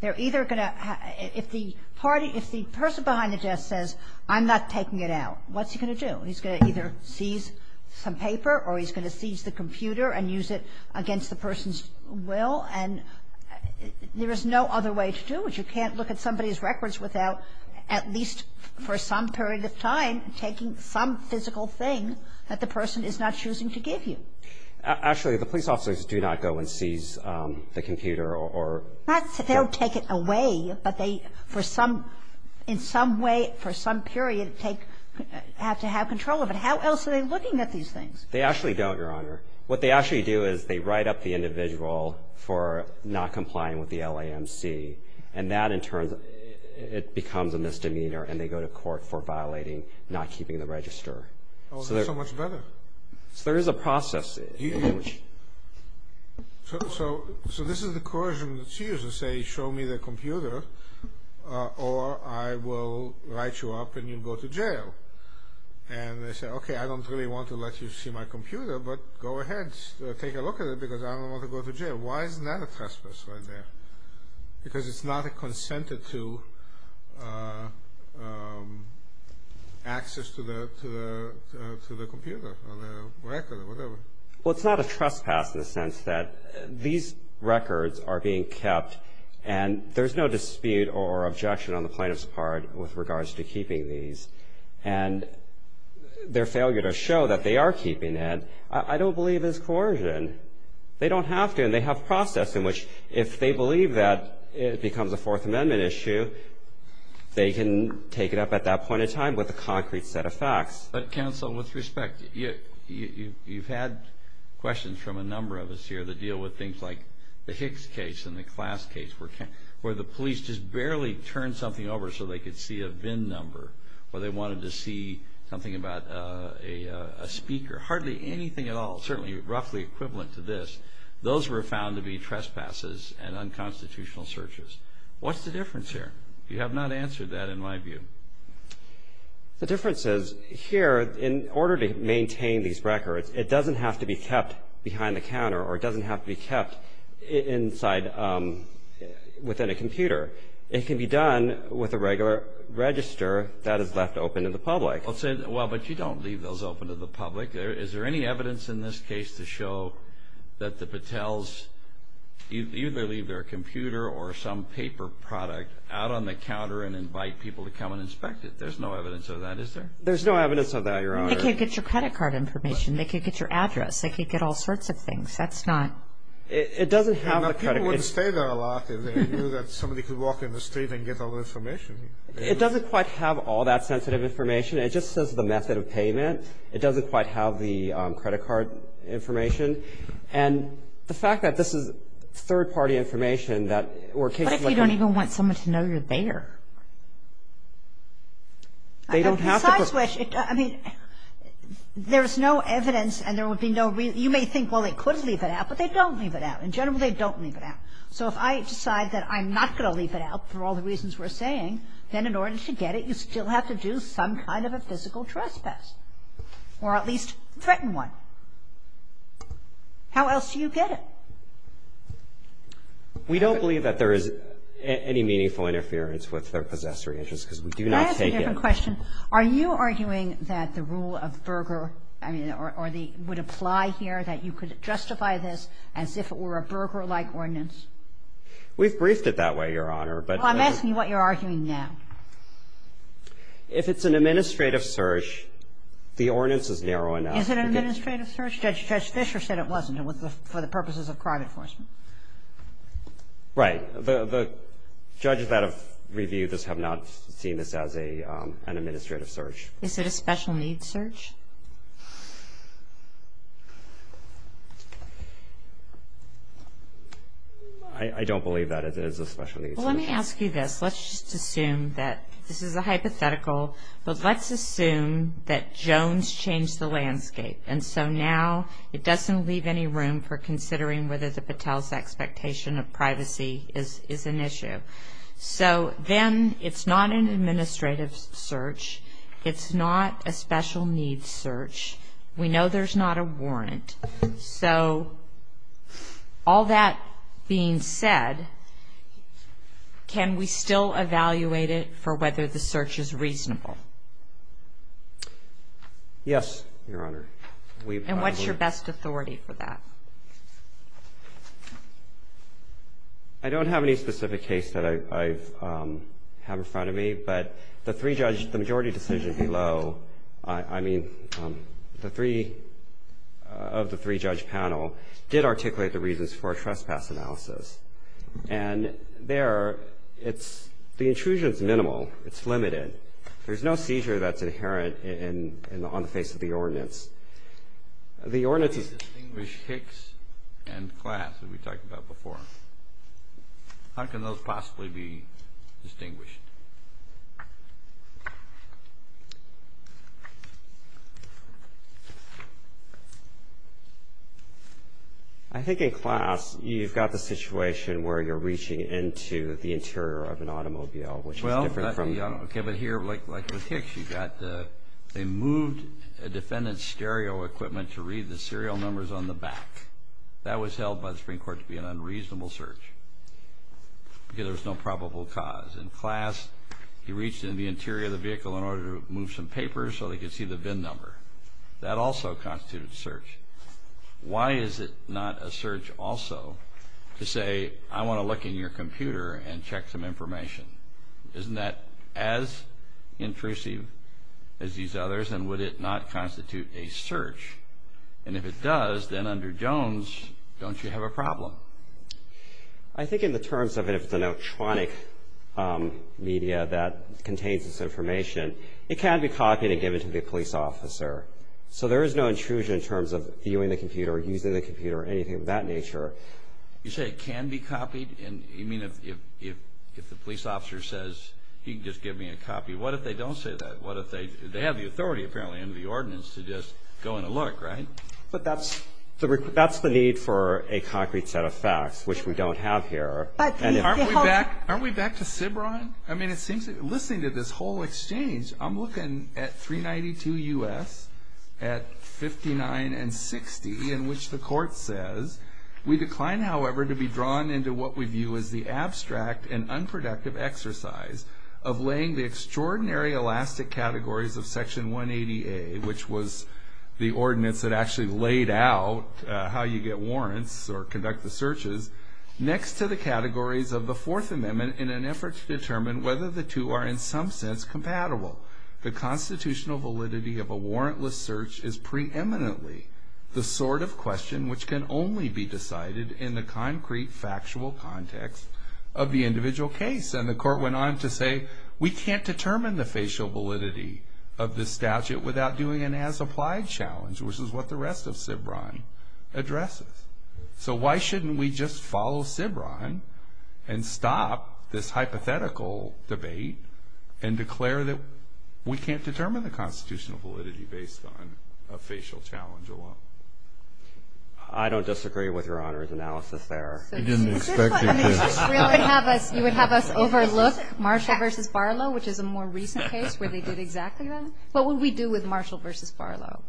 They're either going to – if the party – if the person behind the desk says, I'm not taking it out, what's he going to do? He's going to either seize some paper or he's going to seize the computer and use it against the person's will. And there is no other way to do it. You can't look at somebody's records without at least for some period of time taking some physical thing that the person is not choosing to give you. Actually, the police officers do not go and seize the computer or – They don't take it away, but they, for some – in some way, for some period, take – have to have control of it. How else are they looking at these things? They actually don't, Your Honor. What they actually do is they write up the individual for not complying with the LAMC, and that, in turn, it becomes a misdemeanor, and they go to court for violating not keeping the register. Oh, that's so much better. So there is a process in which – So this is the coercion that's used to say, show me the computer or I will write you up and you go to jail. And they say, okay, I don't really want to let you see my computer, but go ahead, take a look at it, because I don't want to go to jail. Why isn't that a trespass right there? Because it's not consented to access to the computer or the record or whatever. Well, it's not a trespass in the sense that these records are being kept, and there's no dispute or objection on the plaintiff's part with regards to keeping these. And their failure to show that they are keeping it I don't believe is coercion. They don't have to, and they have process in which if they believe that it becomes a Fourth Amendment issue, they can take it up at that point in time with a concrete set of facts. But, counsel, with respect, you've had questions from a number of us here that deal with things like the Hicks case and the Klass case where the police just barely turned something over so they could see a VIN number or they wanted to see something about a speaker. Hardly anything at all, certainly roughly equivalent to this, those were found to be trespasses and unconstitutional searches. What's the difference here? You have not answered that in my view. The difference is here in order to maintain these records, it doesn't have to be kept behind the counter or it doesn't have to be kept inside within a computer. It can be done with a regular register that is left open to the public. Well, but you don't leave those open to the public. Is there any evidence in this case to show that the Patels either leave their computer or some paper product out on the counter and invite people to come and inspect it? There's no evidence of that, is there? There's no evidence of that, Your Honor. They can't get your credit card information. They can't get your address. They can't get all sorts of things. That's not. It doesn't have the credit. People wouldn't stay there a lot if they knew that somebody could walk in the street and get all the information. It doesn't quite have all that sensitive information. It just says the method of payment. It doesn't quite have the credit card information. And the fact that this is third-party information that were occasionally. What if you don't even want someone to know you're there? They don't have to. Besides which, I mean, there's no evidence and there would be no real. You may think, well, they could leave it out, but they don't leave it out. In general, they don't leave it out. So if I decide that I'm not going to leave it out for all the reasons we're saying, then in order to get it, you still have to do some kind of a physical trespass or at least threaten one. How else do you get it? We don't believe that there is any meaningful interference with their possessory interest because we do not take it. Can I ask a different question? Are you arguing that the rule of Berger, I mean, would apply here, that you could justify this as if it were a Berger-like ordinance? We've briefed it that way, Your Honor. Well, I'm asking you what you're arguing now. If it's an administrative search, the ordinance is narrow enough. Is it an administrative search? Judge Fischer said it wasn't for the purposes of crime enforcement. Right. The judges that have reviewed this have not seen this as an administrative search. Is it a special needs search? I don't believe that it is a special needs search. Well, let me ask you this. Let's just assume that this is a hypothetical. Let's assume that Jones changed the landscape, and so now it doesn't leave any room for considering whether the Patel's expectation of privacy is an issue. So then it's not an administrative search. It's not a special needs search. We know there's not a warrant. So all that being said, can we still evaluate it for whether the search is reasonable? Yes, Your Honor. And what's your best authority for that? I don't have any specific case that I have in front of me, but the three judges, the majority decision below, I mean, the three of the three-judge panel did articulate the reasons for a trespass analysis, and there it's the intrusion's minimal. It's limited. There's no seizure that's inherent on the face of the ordinance. The ordinance is... I think in class you've got the situation where you're reaching into the interior of an automobile, which is different from... Well, okay, but here, like with Hicks, you've got they moved a defendant's stereo equipment to read the serial numbers on the back. That was held by the Supreme Court to be an unreasonable search because there was no probable cause. In class, he reached into the interior of the vehicle in order to move some papers so they could see the VIN number. That also constituted a search. Why is it not a search also to say, I want to look in your computer and check some information? Isn't that as intrusive as these others, and would it not constitute a search? And if it does, then under Jones, don't you have a problem? I think in the terms of if it's an electronic media that contains this information, it can be copied and given to the police officer. So there is no intrusion in terms of viewing the computer or using the computer or anything of that nature. You say it can be copied? You mean if the police officer says he can just give me a copy, what if they don't say that? What if they have the authority, apparently, under the ordinance to just go and look, right? But that's the need for a concrete set of facts, which we don't have here. Aren't we back to CBRON? I mean, it seems, listening to this whole exchange, I'm looking at 392 U.S., at 59 and 60, in which the court says, we decline, however, to be drawn into what we view as the abstract and unproductive exercise of laying the extraordinary elastic categories of Section 180A, which was the ordinance that actually laid out how you get warrants or conduct the searches, next to the categories of the Fourth Amendment in an effort to determine whether the two are in some sense compatible. The constitutional validity of a warrantless search is preeminently the sort of question which can only be decided in the concrete, factual context of the individual case. And the court went on to say, we can't determine the facial validity of this statute without doing an as-applied challenge, which is what the rest of CBRON addresses. So why shouldn't we just follow CBRON and stop this hypothetical debate and declare that we can't determine the constitutional validity based on a facial challenge alone? I don't disagree with Your Honor's analysis there. You would have us overlook Marshall v. Barlow, which is a more recent case where they did exactly that? What would we do with Marshall v. Barlow?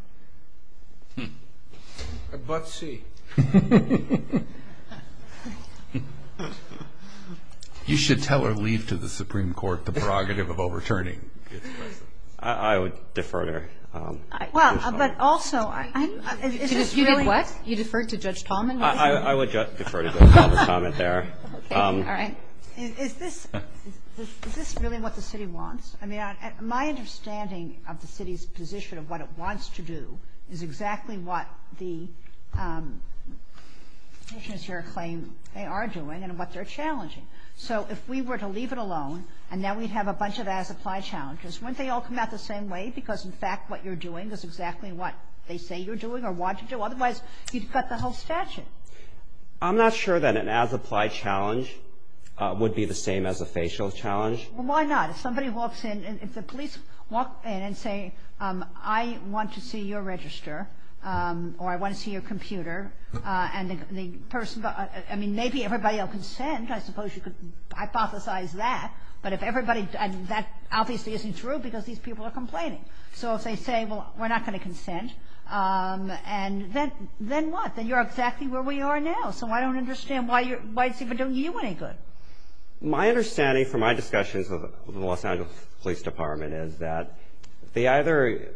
You should tell or leave to the Supreme Court the prerogative of overturning its presence. I would defer to her. Well, but also, I don't know. You did what? You deferred to Judge Tallman? I would defer to Judge Tallman's comment there. Okay. All right. Is this really what the city wants? I mean, my understanding of the city's position of what it wants to do is exactly what the petitioners here claim they are doing and what they're challenging. So if we were to leave it alone and now we'd have a bunch of as-applied challenges, wouldn't they all come out the same way because, in fact, what you're doing is exactly what they say you're doing or want to do? Otherwise, you'd cut the whole statute. I'm not sure that an as-applied challenge would be the same as a facial challenge. Well, why not? If somebody walks in, if the police walk in and say, I want to see your register or I want to see your computer, and the person goes – I mean, maybe everybody will consent. I suppose you could hypothesize that. But if everybody – and that obviously isn't true because these people are complaining. So if they say, well, we're not going to consent, and then what? Then you're exactly where we are now. So I don't understand why it's even doing you any good. My understanding from my discussions with the Los Angeles Police Department is that they either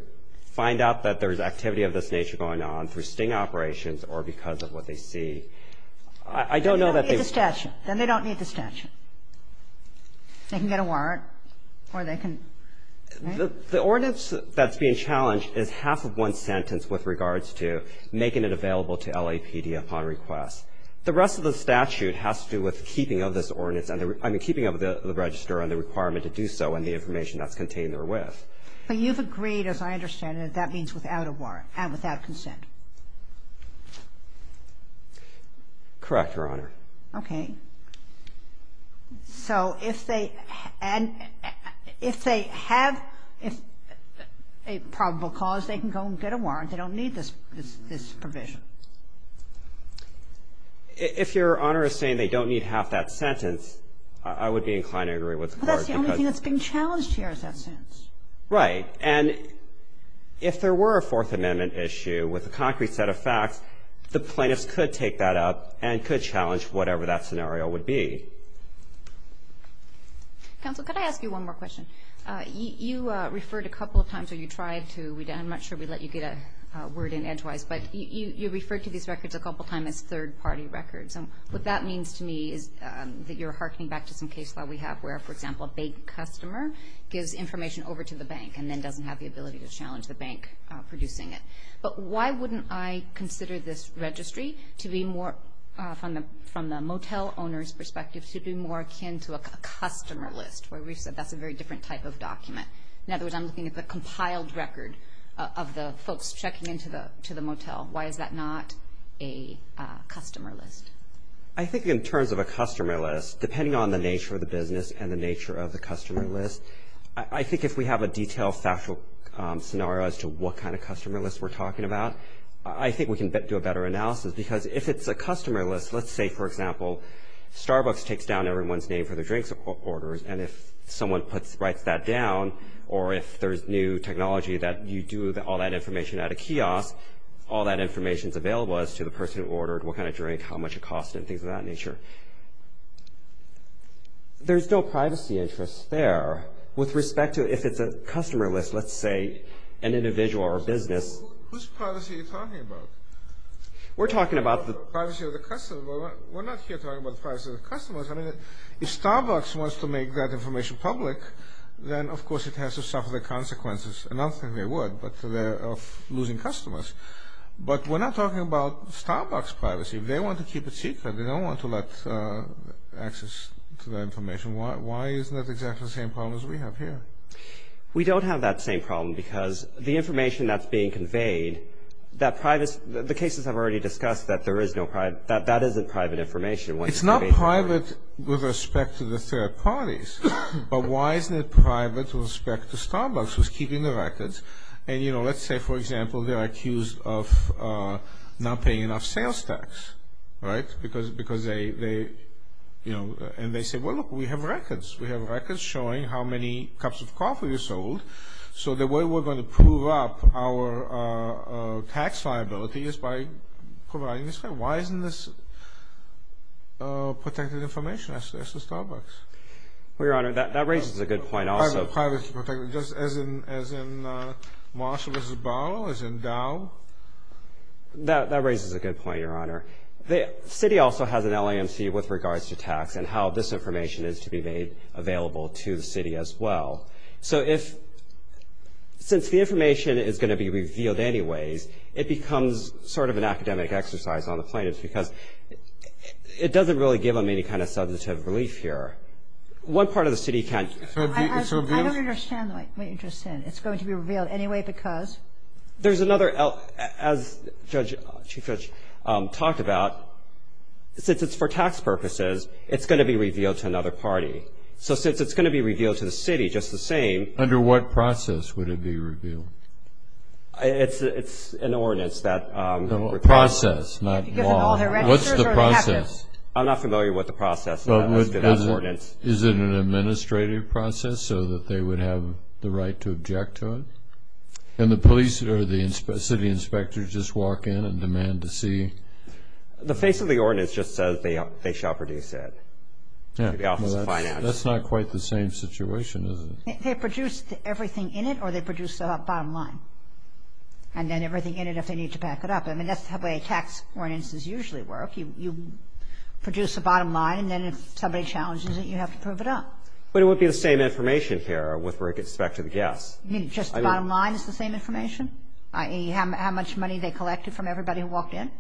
find out that there's activity of this nature going on through sting operations or because of what they see. I don't know that they – Then they don't need the statute. Then they don't need the statute. They can get a warrant or they can – right? The ordinance that's being challenged is half of one sentence with regards to making it available to LAPD upon request. The rest of the statute has to do with keeping of this ordinance – I mean, keeping of the register and the requirement to do so and the information that's contained therewith. But you've agreed, as I understand it, that that means without a warrant and without consent. Correct, Your Honor. Okay. So if they – and if they have a probable cause, they can go and get a warrant. They don't need this provision. If Your Honor is saying they don't need half that sentence, I would be inclined to agree with the Court because – But that's the only thing that's being challenged here is that sentence. Right. And if there were a Fourth Amendment issue with a concrete set of facts, the plaintiffs could take that up and could challenge whatever that scenario would be. Counsel, could I ask you one more question? You referred a couple of times or you tried to – I'm not sure we let you get a word in edgewise, but you referred to these records a couple of times as third-party records. And what that means to me is that you're harkening back to some case law we have where, for example, a big customer gives information over to the bank and then doesn't have the ability to challenge the bank producing it. But why wouldn't I consider this registry to be more – from the motel owner's perspective, to be more akin to a customer list, where we said that's a very different type of document? In other words, I'm looking at the compiled record of the folks checking into the motel. Why is that not a customer list? I think in terms of a customer list, depending on the nature of the business and the nature of the customer list, I think if we have a detailed factual scenario as to what kind of customer list we're talking about, I think we can do a better analysis. Because if it's a customer list – let's say, for example, Starbucks takes down everyone's name for their drinks orders, and if someone writes that down, or if there's new technology that you do all that information at a kiosk, all that information's available as to the person who ordered what kind of drink, how much it cost, and things of that nature. There's no privacy interest there. With respect to if it's a customer list, let's say, an individual or a business. Whose privacy are you talking about? We're talking about the privacy of the customer. We're not here talking about the privacy of the customers. If Starbucks wants to make that information public, then of course it has to suffer the consequences – and I don't think they would – of losing customers. But we're not talking about Starbucks' privacy. If they want to keep it secret, they don't want to let access to that information. Why isn't that exactly the same problem as we have here? We don't have that same problem, because the information that's being conveyed – the cases I've already discussed – that isn't private information. It's not private with respect to the third parties. But why isn't it private with respect to Starbucks, who's keeping the records? And let's say, for example, they're accused of not paying enough sales tax. Right? And they say, well, look, we have records. We have records showing how many cups of coffee are sold. So the way we're going to prove up our tax liability is by providing this. Why isn't this protected information as to Starbucks? Well, Your Honor, that raises a good point also. Privacy protection, just as in Marshall v. Barlow, as in Dow? That raises a good point, Your Honor. The city also has an LAMC with regards to tax and how this information is to be made available to the city as well. So if – since the information is going to be revealed anyways, it becomes sort of an academic exercise on the plaintiffs, because it doesn't really give them any kind of substantive relief here. One part of the city can't – So it's revealed? I don't understand what you're saying. It's going to be revealed anyway because? There's another – as Chief Judge talked about, since it's for tax purposes, it's going to be revealed to another party. So since it's going to be revealed to the city just the same – Under what process would it be revealed? It's an ordinance that – A process, not law. What's the process? I'm not familiar with the process. Is it an administrative process so that they would have the right to object to it? And the police or the city inspectors just walk in and demand to see? The face of the ordinance just says they shall produce it. That's not quite the same situation, is it? They produce everything in it or they produce the bottom line, and then everything in it if they need to back it up. I mean, that's the way tax ordinances usually work. You produce the bottom line, and then if somebody challenges it, you have to prove it up. But it would be the same information here with respect to the gas. You mean just the bottom line is the same information, i.e., how much money they collected from everybody who walked in?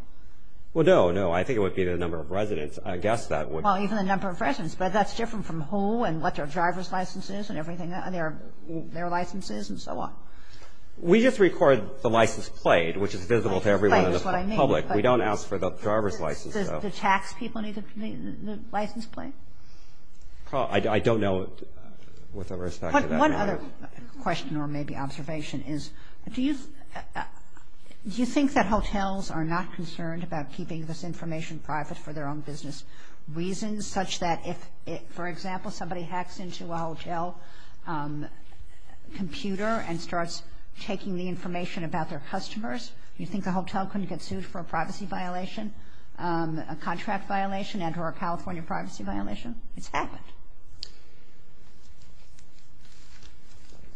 Well, no, no. I think it would be the number of residents. I guess that would – Well, even the number of residents. But that's different from who and what their driver's license is and everything – their licenses and so on. We just record the license plate, which is visible to everyone in the public. We don't ask for the driver's license. Does the tax people need the license plate? I don't know with respect to that. One other question or maybe observation is do you think that hotels are not concerned about keeping this information private for their own business reasons, such that if, for example, somebody hacks into a hotel computer and starts taking the information about their customers, do you think the hotel couldn't get sued for a privacy violation, a contract violation, and or a California privacy violation? It's happened.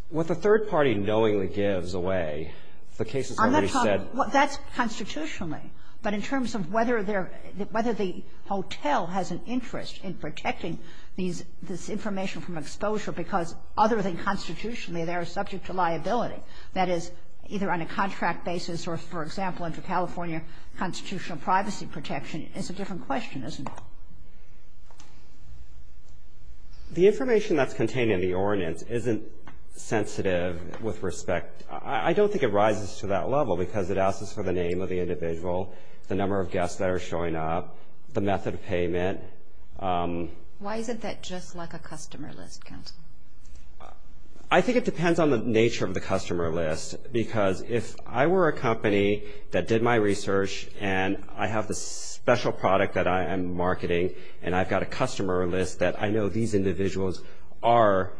What the third party knowingly gives away, the case has already said – Well, that's constitutionally. But in terms of whether there – whether the hotel has an interest in protecting these – this information from exposure because other than constitutionally they are subject to liability, that is, either on a contract basis or, for example, under California constitutional privacy protection, it's a different question, isn't it? The information that's contained in the ordinance isn't sensitive with respect – I don't think it rises to that level because it asks us for the name of the individual, the number of guests that are showing up, the method of payment. Why isn't that just like a customer list, counsel? I think it depends on the nature of the customer list because if I were a company that did my research and I have this special product that I am marketing and I've got a customer list that I know these individuals are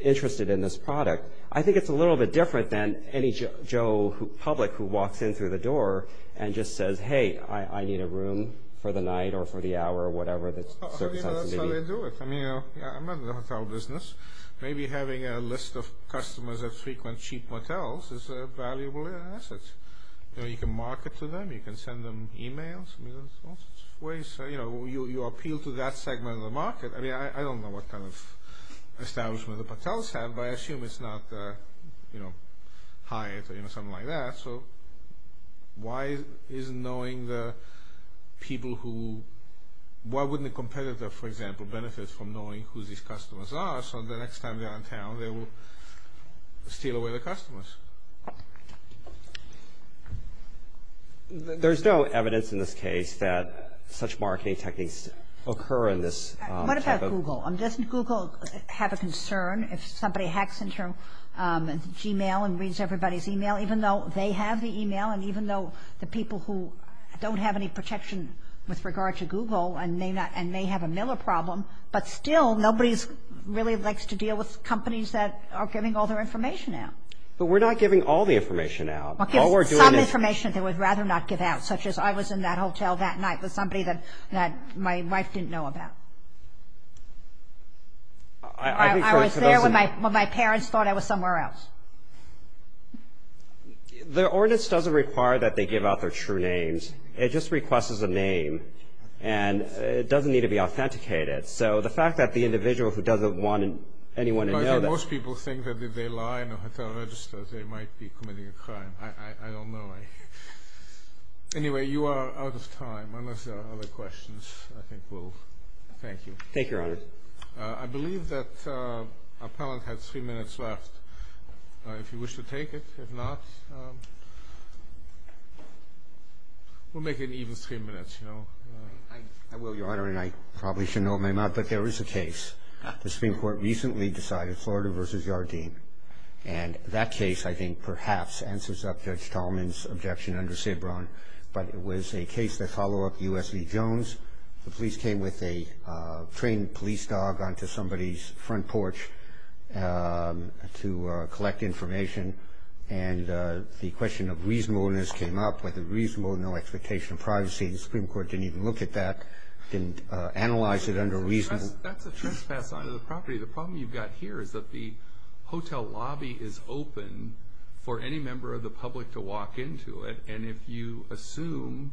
interested in this product, I think it's a little bit different than any Joe public who walks in through the door and just says, hey, I need a room for the night or for the hour or whatever. That's how they do it. I mean, I'm not in the hotel business. Maybe having a list of customers that frequent cheap motels is a valuable asset. You can market to them. You can send them emails. You appeal to that segment of the market. I mean, I don't know what kind of establishment the motels have, but I assume it's not Hyatt or something like that. So why isn't knowing the people who – why wouldn't a competitor, for example, benefit from knowing who these customers are so the next time they're in town they will steal away the customers? There's no evidence in this case that such marketing techniques occur in this type of – What about Google? Doesn't Google have a concern if somebody hacks into Gmail and reads everybody's email, even though they have the email and even though the people who don't have any protection with regard to Google and may have a Miller problem, but still nobody really likes to deal with companies that are giving all their information out. But we're not giving all the information out. Some information they would rather not give out, such as I was in that hotel that night with somebody that my wife didn't know about. I was there when my parents thought I was somewhere else. The ordinance doesn't require that they give out their true names. It just requests a name, and it doesn't need to be authenticated. So the fact that the individual who doesn't want anyone to know that – Most people think that if they lie in a hotel register they might be committing a crime. I don't know. Anyway, you are out of time, unless there are other questions. Thank you, Your Honor. I believe that our panel has three minutes left. If you wish to take it, if not, we'll make it even three minutes. I will, Your Honor, and I probably shouldn't open my mouth, but there is a case. The Supreme Court recently decided Florida v. Yardeen, and that case I think perhaps answers up Judge Tolman's objection under Sabron, but it was a case that followed up U.S. v. Jones. The police came with a trained police dog onto somebody's front porch to collect information, and the question of reasonableness came up with a reasonable, no expectation of privacy. The Supreme Court didn't even look at that, didn't analyze it under reasonable – That's a trespass onto the property. The problem you've got here is that the hotel lobby is open for any member of the public to walk into it, and if you assume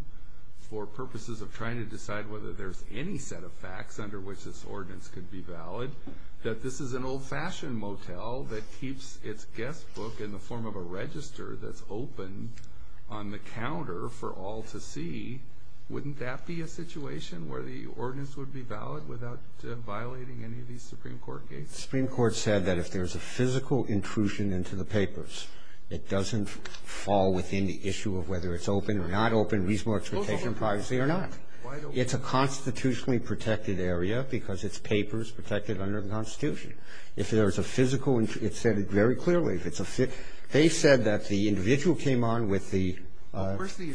for purposes of trying to decide whether there's any set of facts under which this ordinance could be valid, that this is an old-fashioned motel that keeps its guest book in the form of a register that's open on the counter for all to see, wouldn't that be a situation where the ordinance would be valid without violating any of these Supreme Court cases? The Supreme Court said that if there's a physical intrusion into the papers, it doesn't fall within the issue of whether it's open or not open, reasonable expectation of privacy or not. It's a constitutionally protected area because it's papers protected under the Constitution. If there's a physical – it said it very clearly. If it's a – they said that the individual came on with the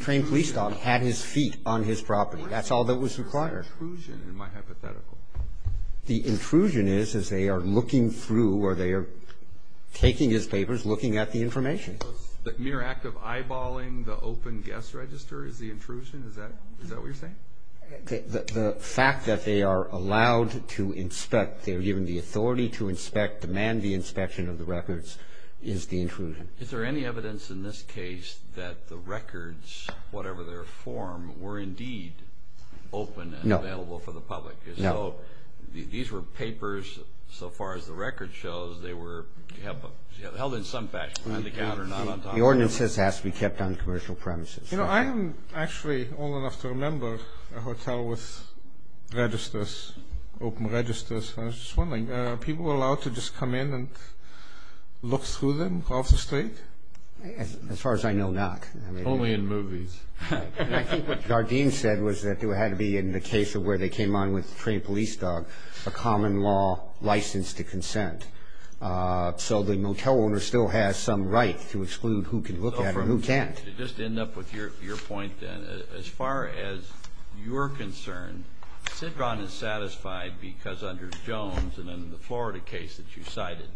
trained police dog, had his feet on his property. That's all that was required. There's an intrusion in my hypothetical. The intrusion is as they are looking through or they are taking his papers, looking at the information. The mere act of eyeballing the open guest register is the intrusion? Is that what you're saying? The fact that they are allowed to inspect, they're given the authority to inspect, demand the inspection of the records, is the intrusion. Is there any evidence in this case that the records, whatever their form, were indeed open and available for the public? So these were papers, so far as the record shows, they were held in some fashion, on the counter, not on top of the counter. The ordinance says it has to be kept on commercial premises. You know, I am actually old enough to remember a hotel with registers, open registers. I was just wondering, are people allowed to just come in and look through them off the street? Only in movies. I think what Gardein said was that it had to be, in the case of where they came on with the trained police dog, a common law license to consent. So the motel owner still has some right to exclude who can look at it and who can't. Just to end up with your point, then, as far as you're concerned, Sidgron is satisfied because under Jones and in the Florida case that you cited,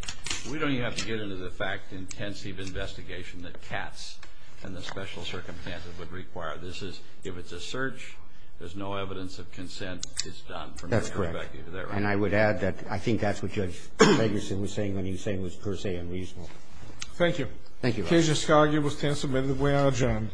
we don't even have to get into the fact, intensive investigation, that cats and the special circumstances would require. This is, if it's a search, there's no evidence that consent is done. That's correct. And I would add that I think that's what Judge Megerson was saying when he was saying it was per se unreasonable. Thank you. Thank you, Your Honor. Case discarded. It was 10 submitted. We are adjourned.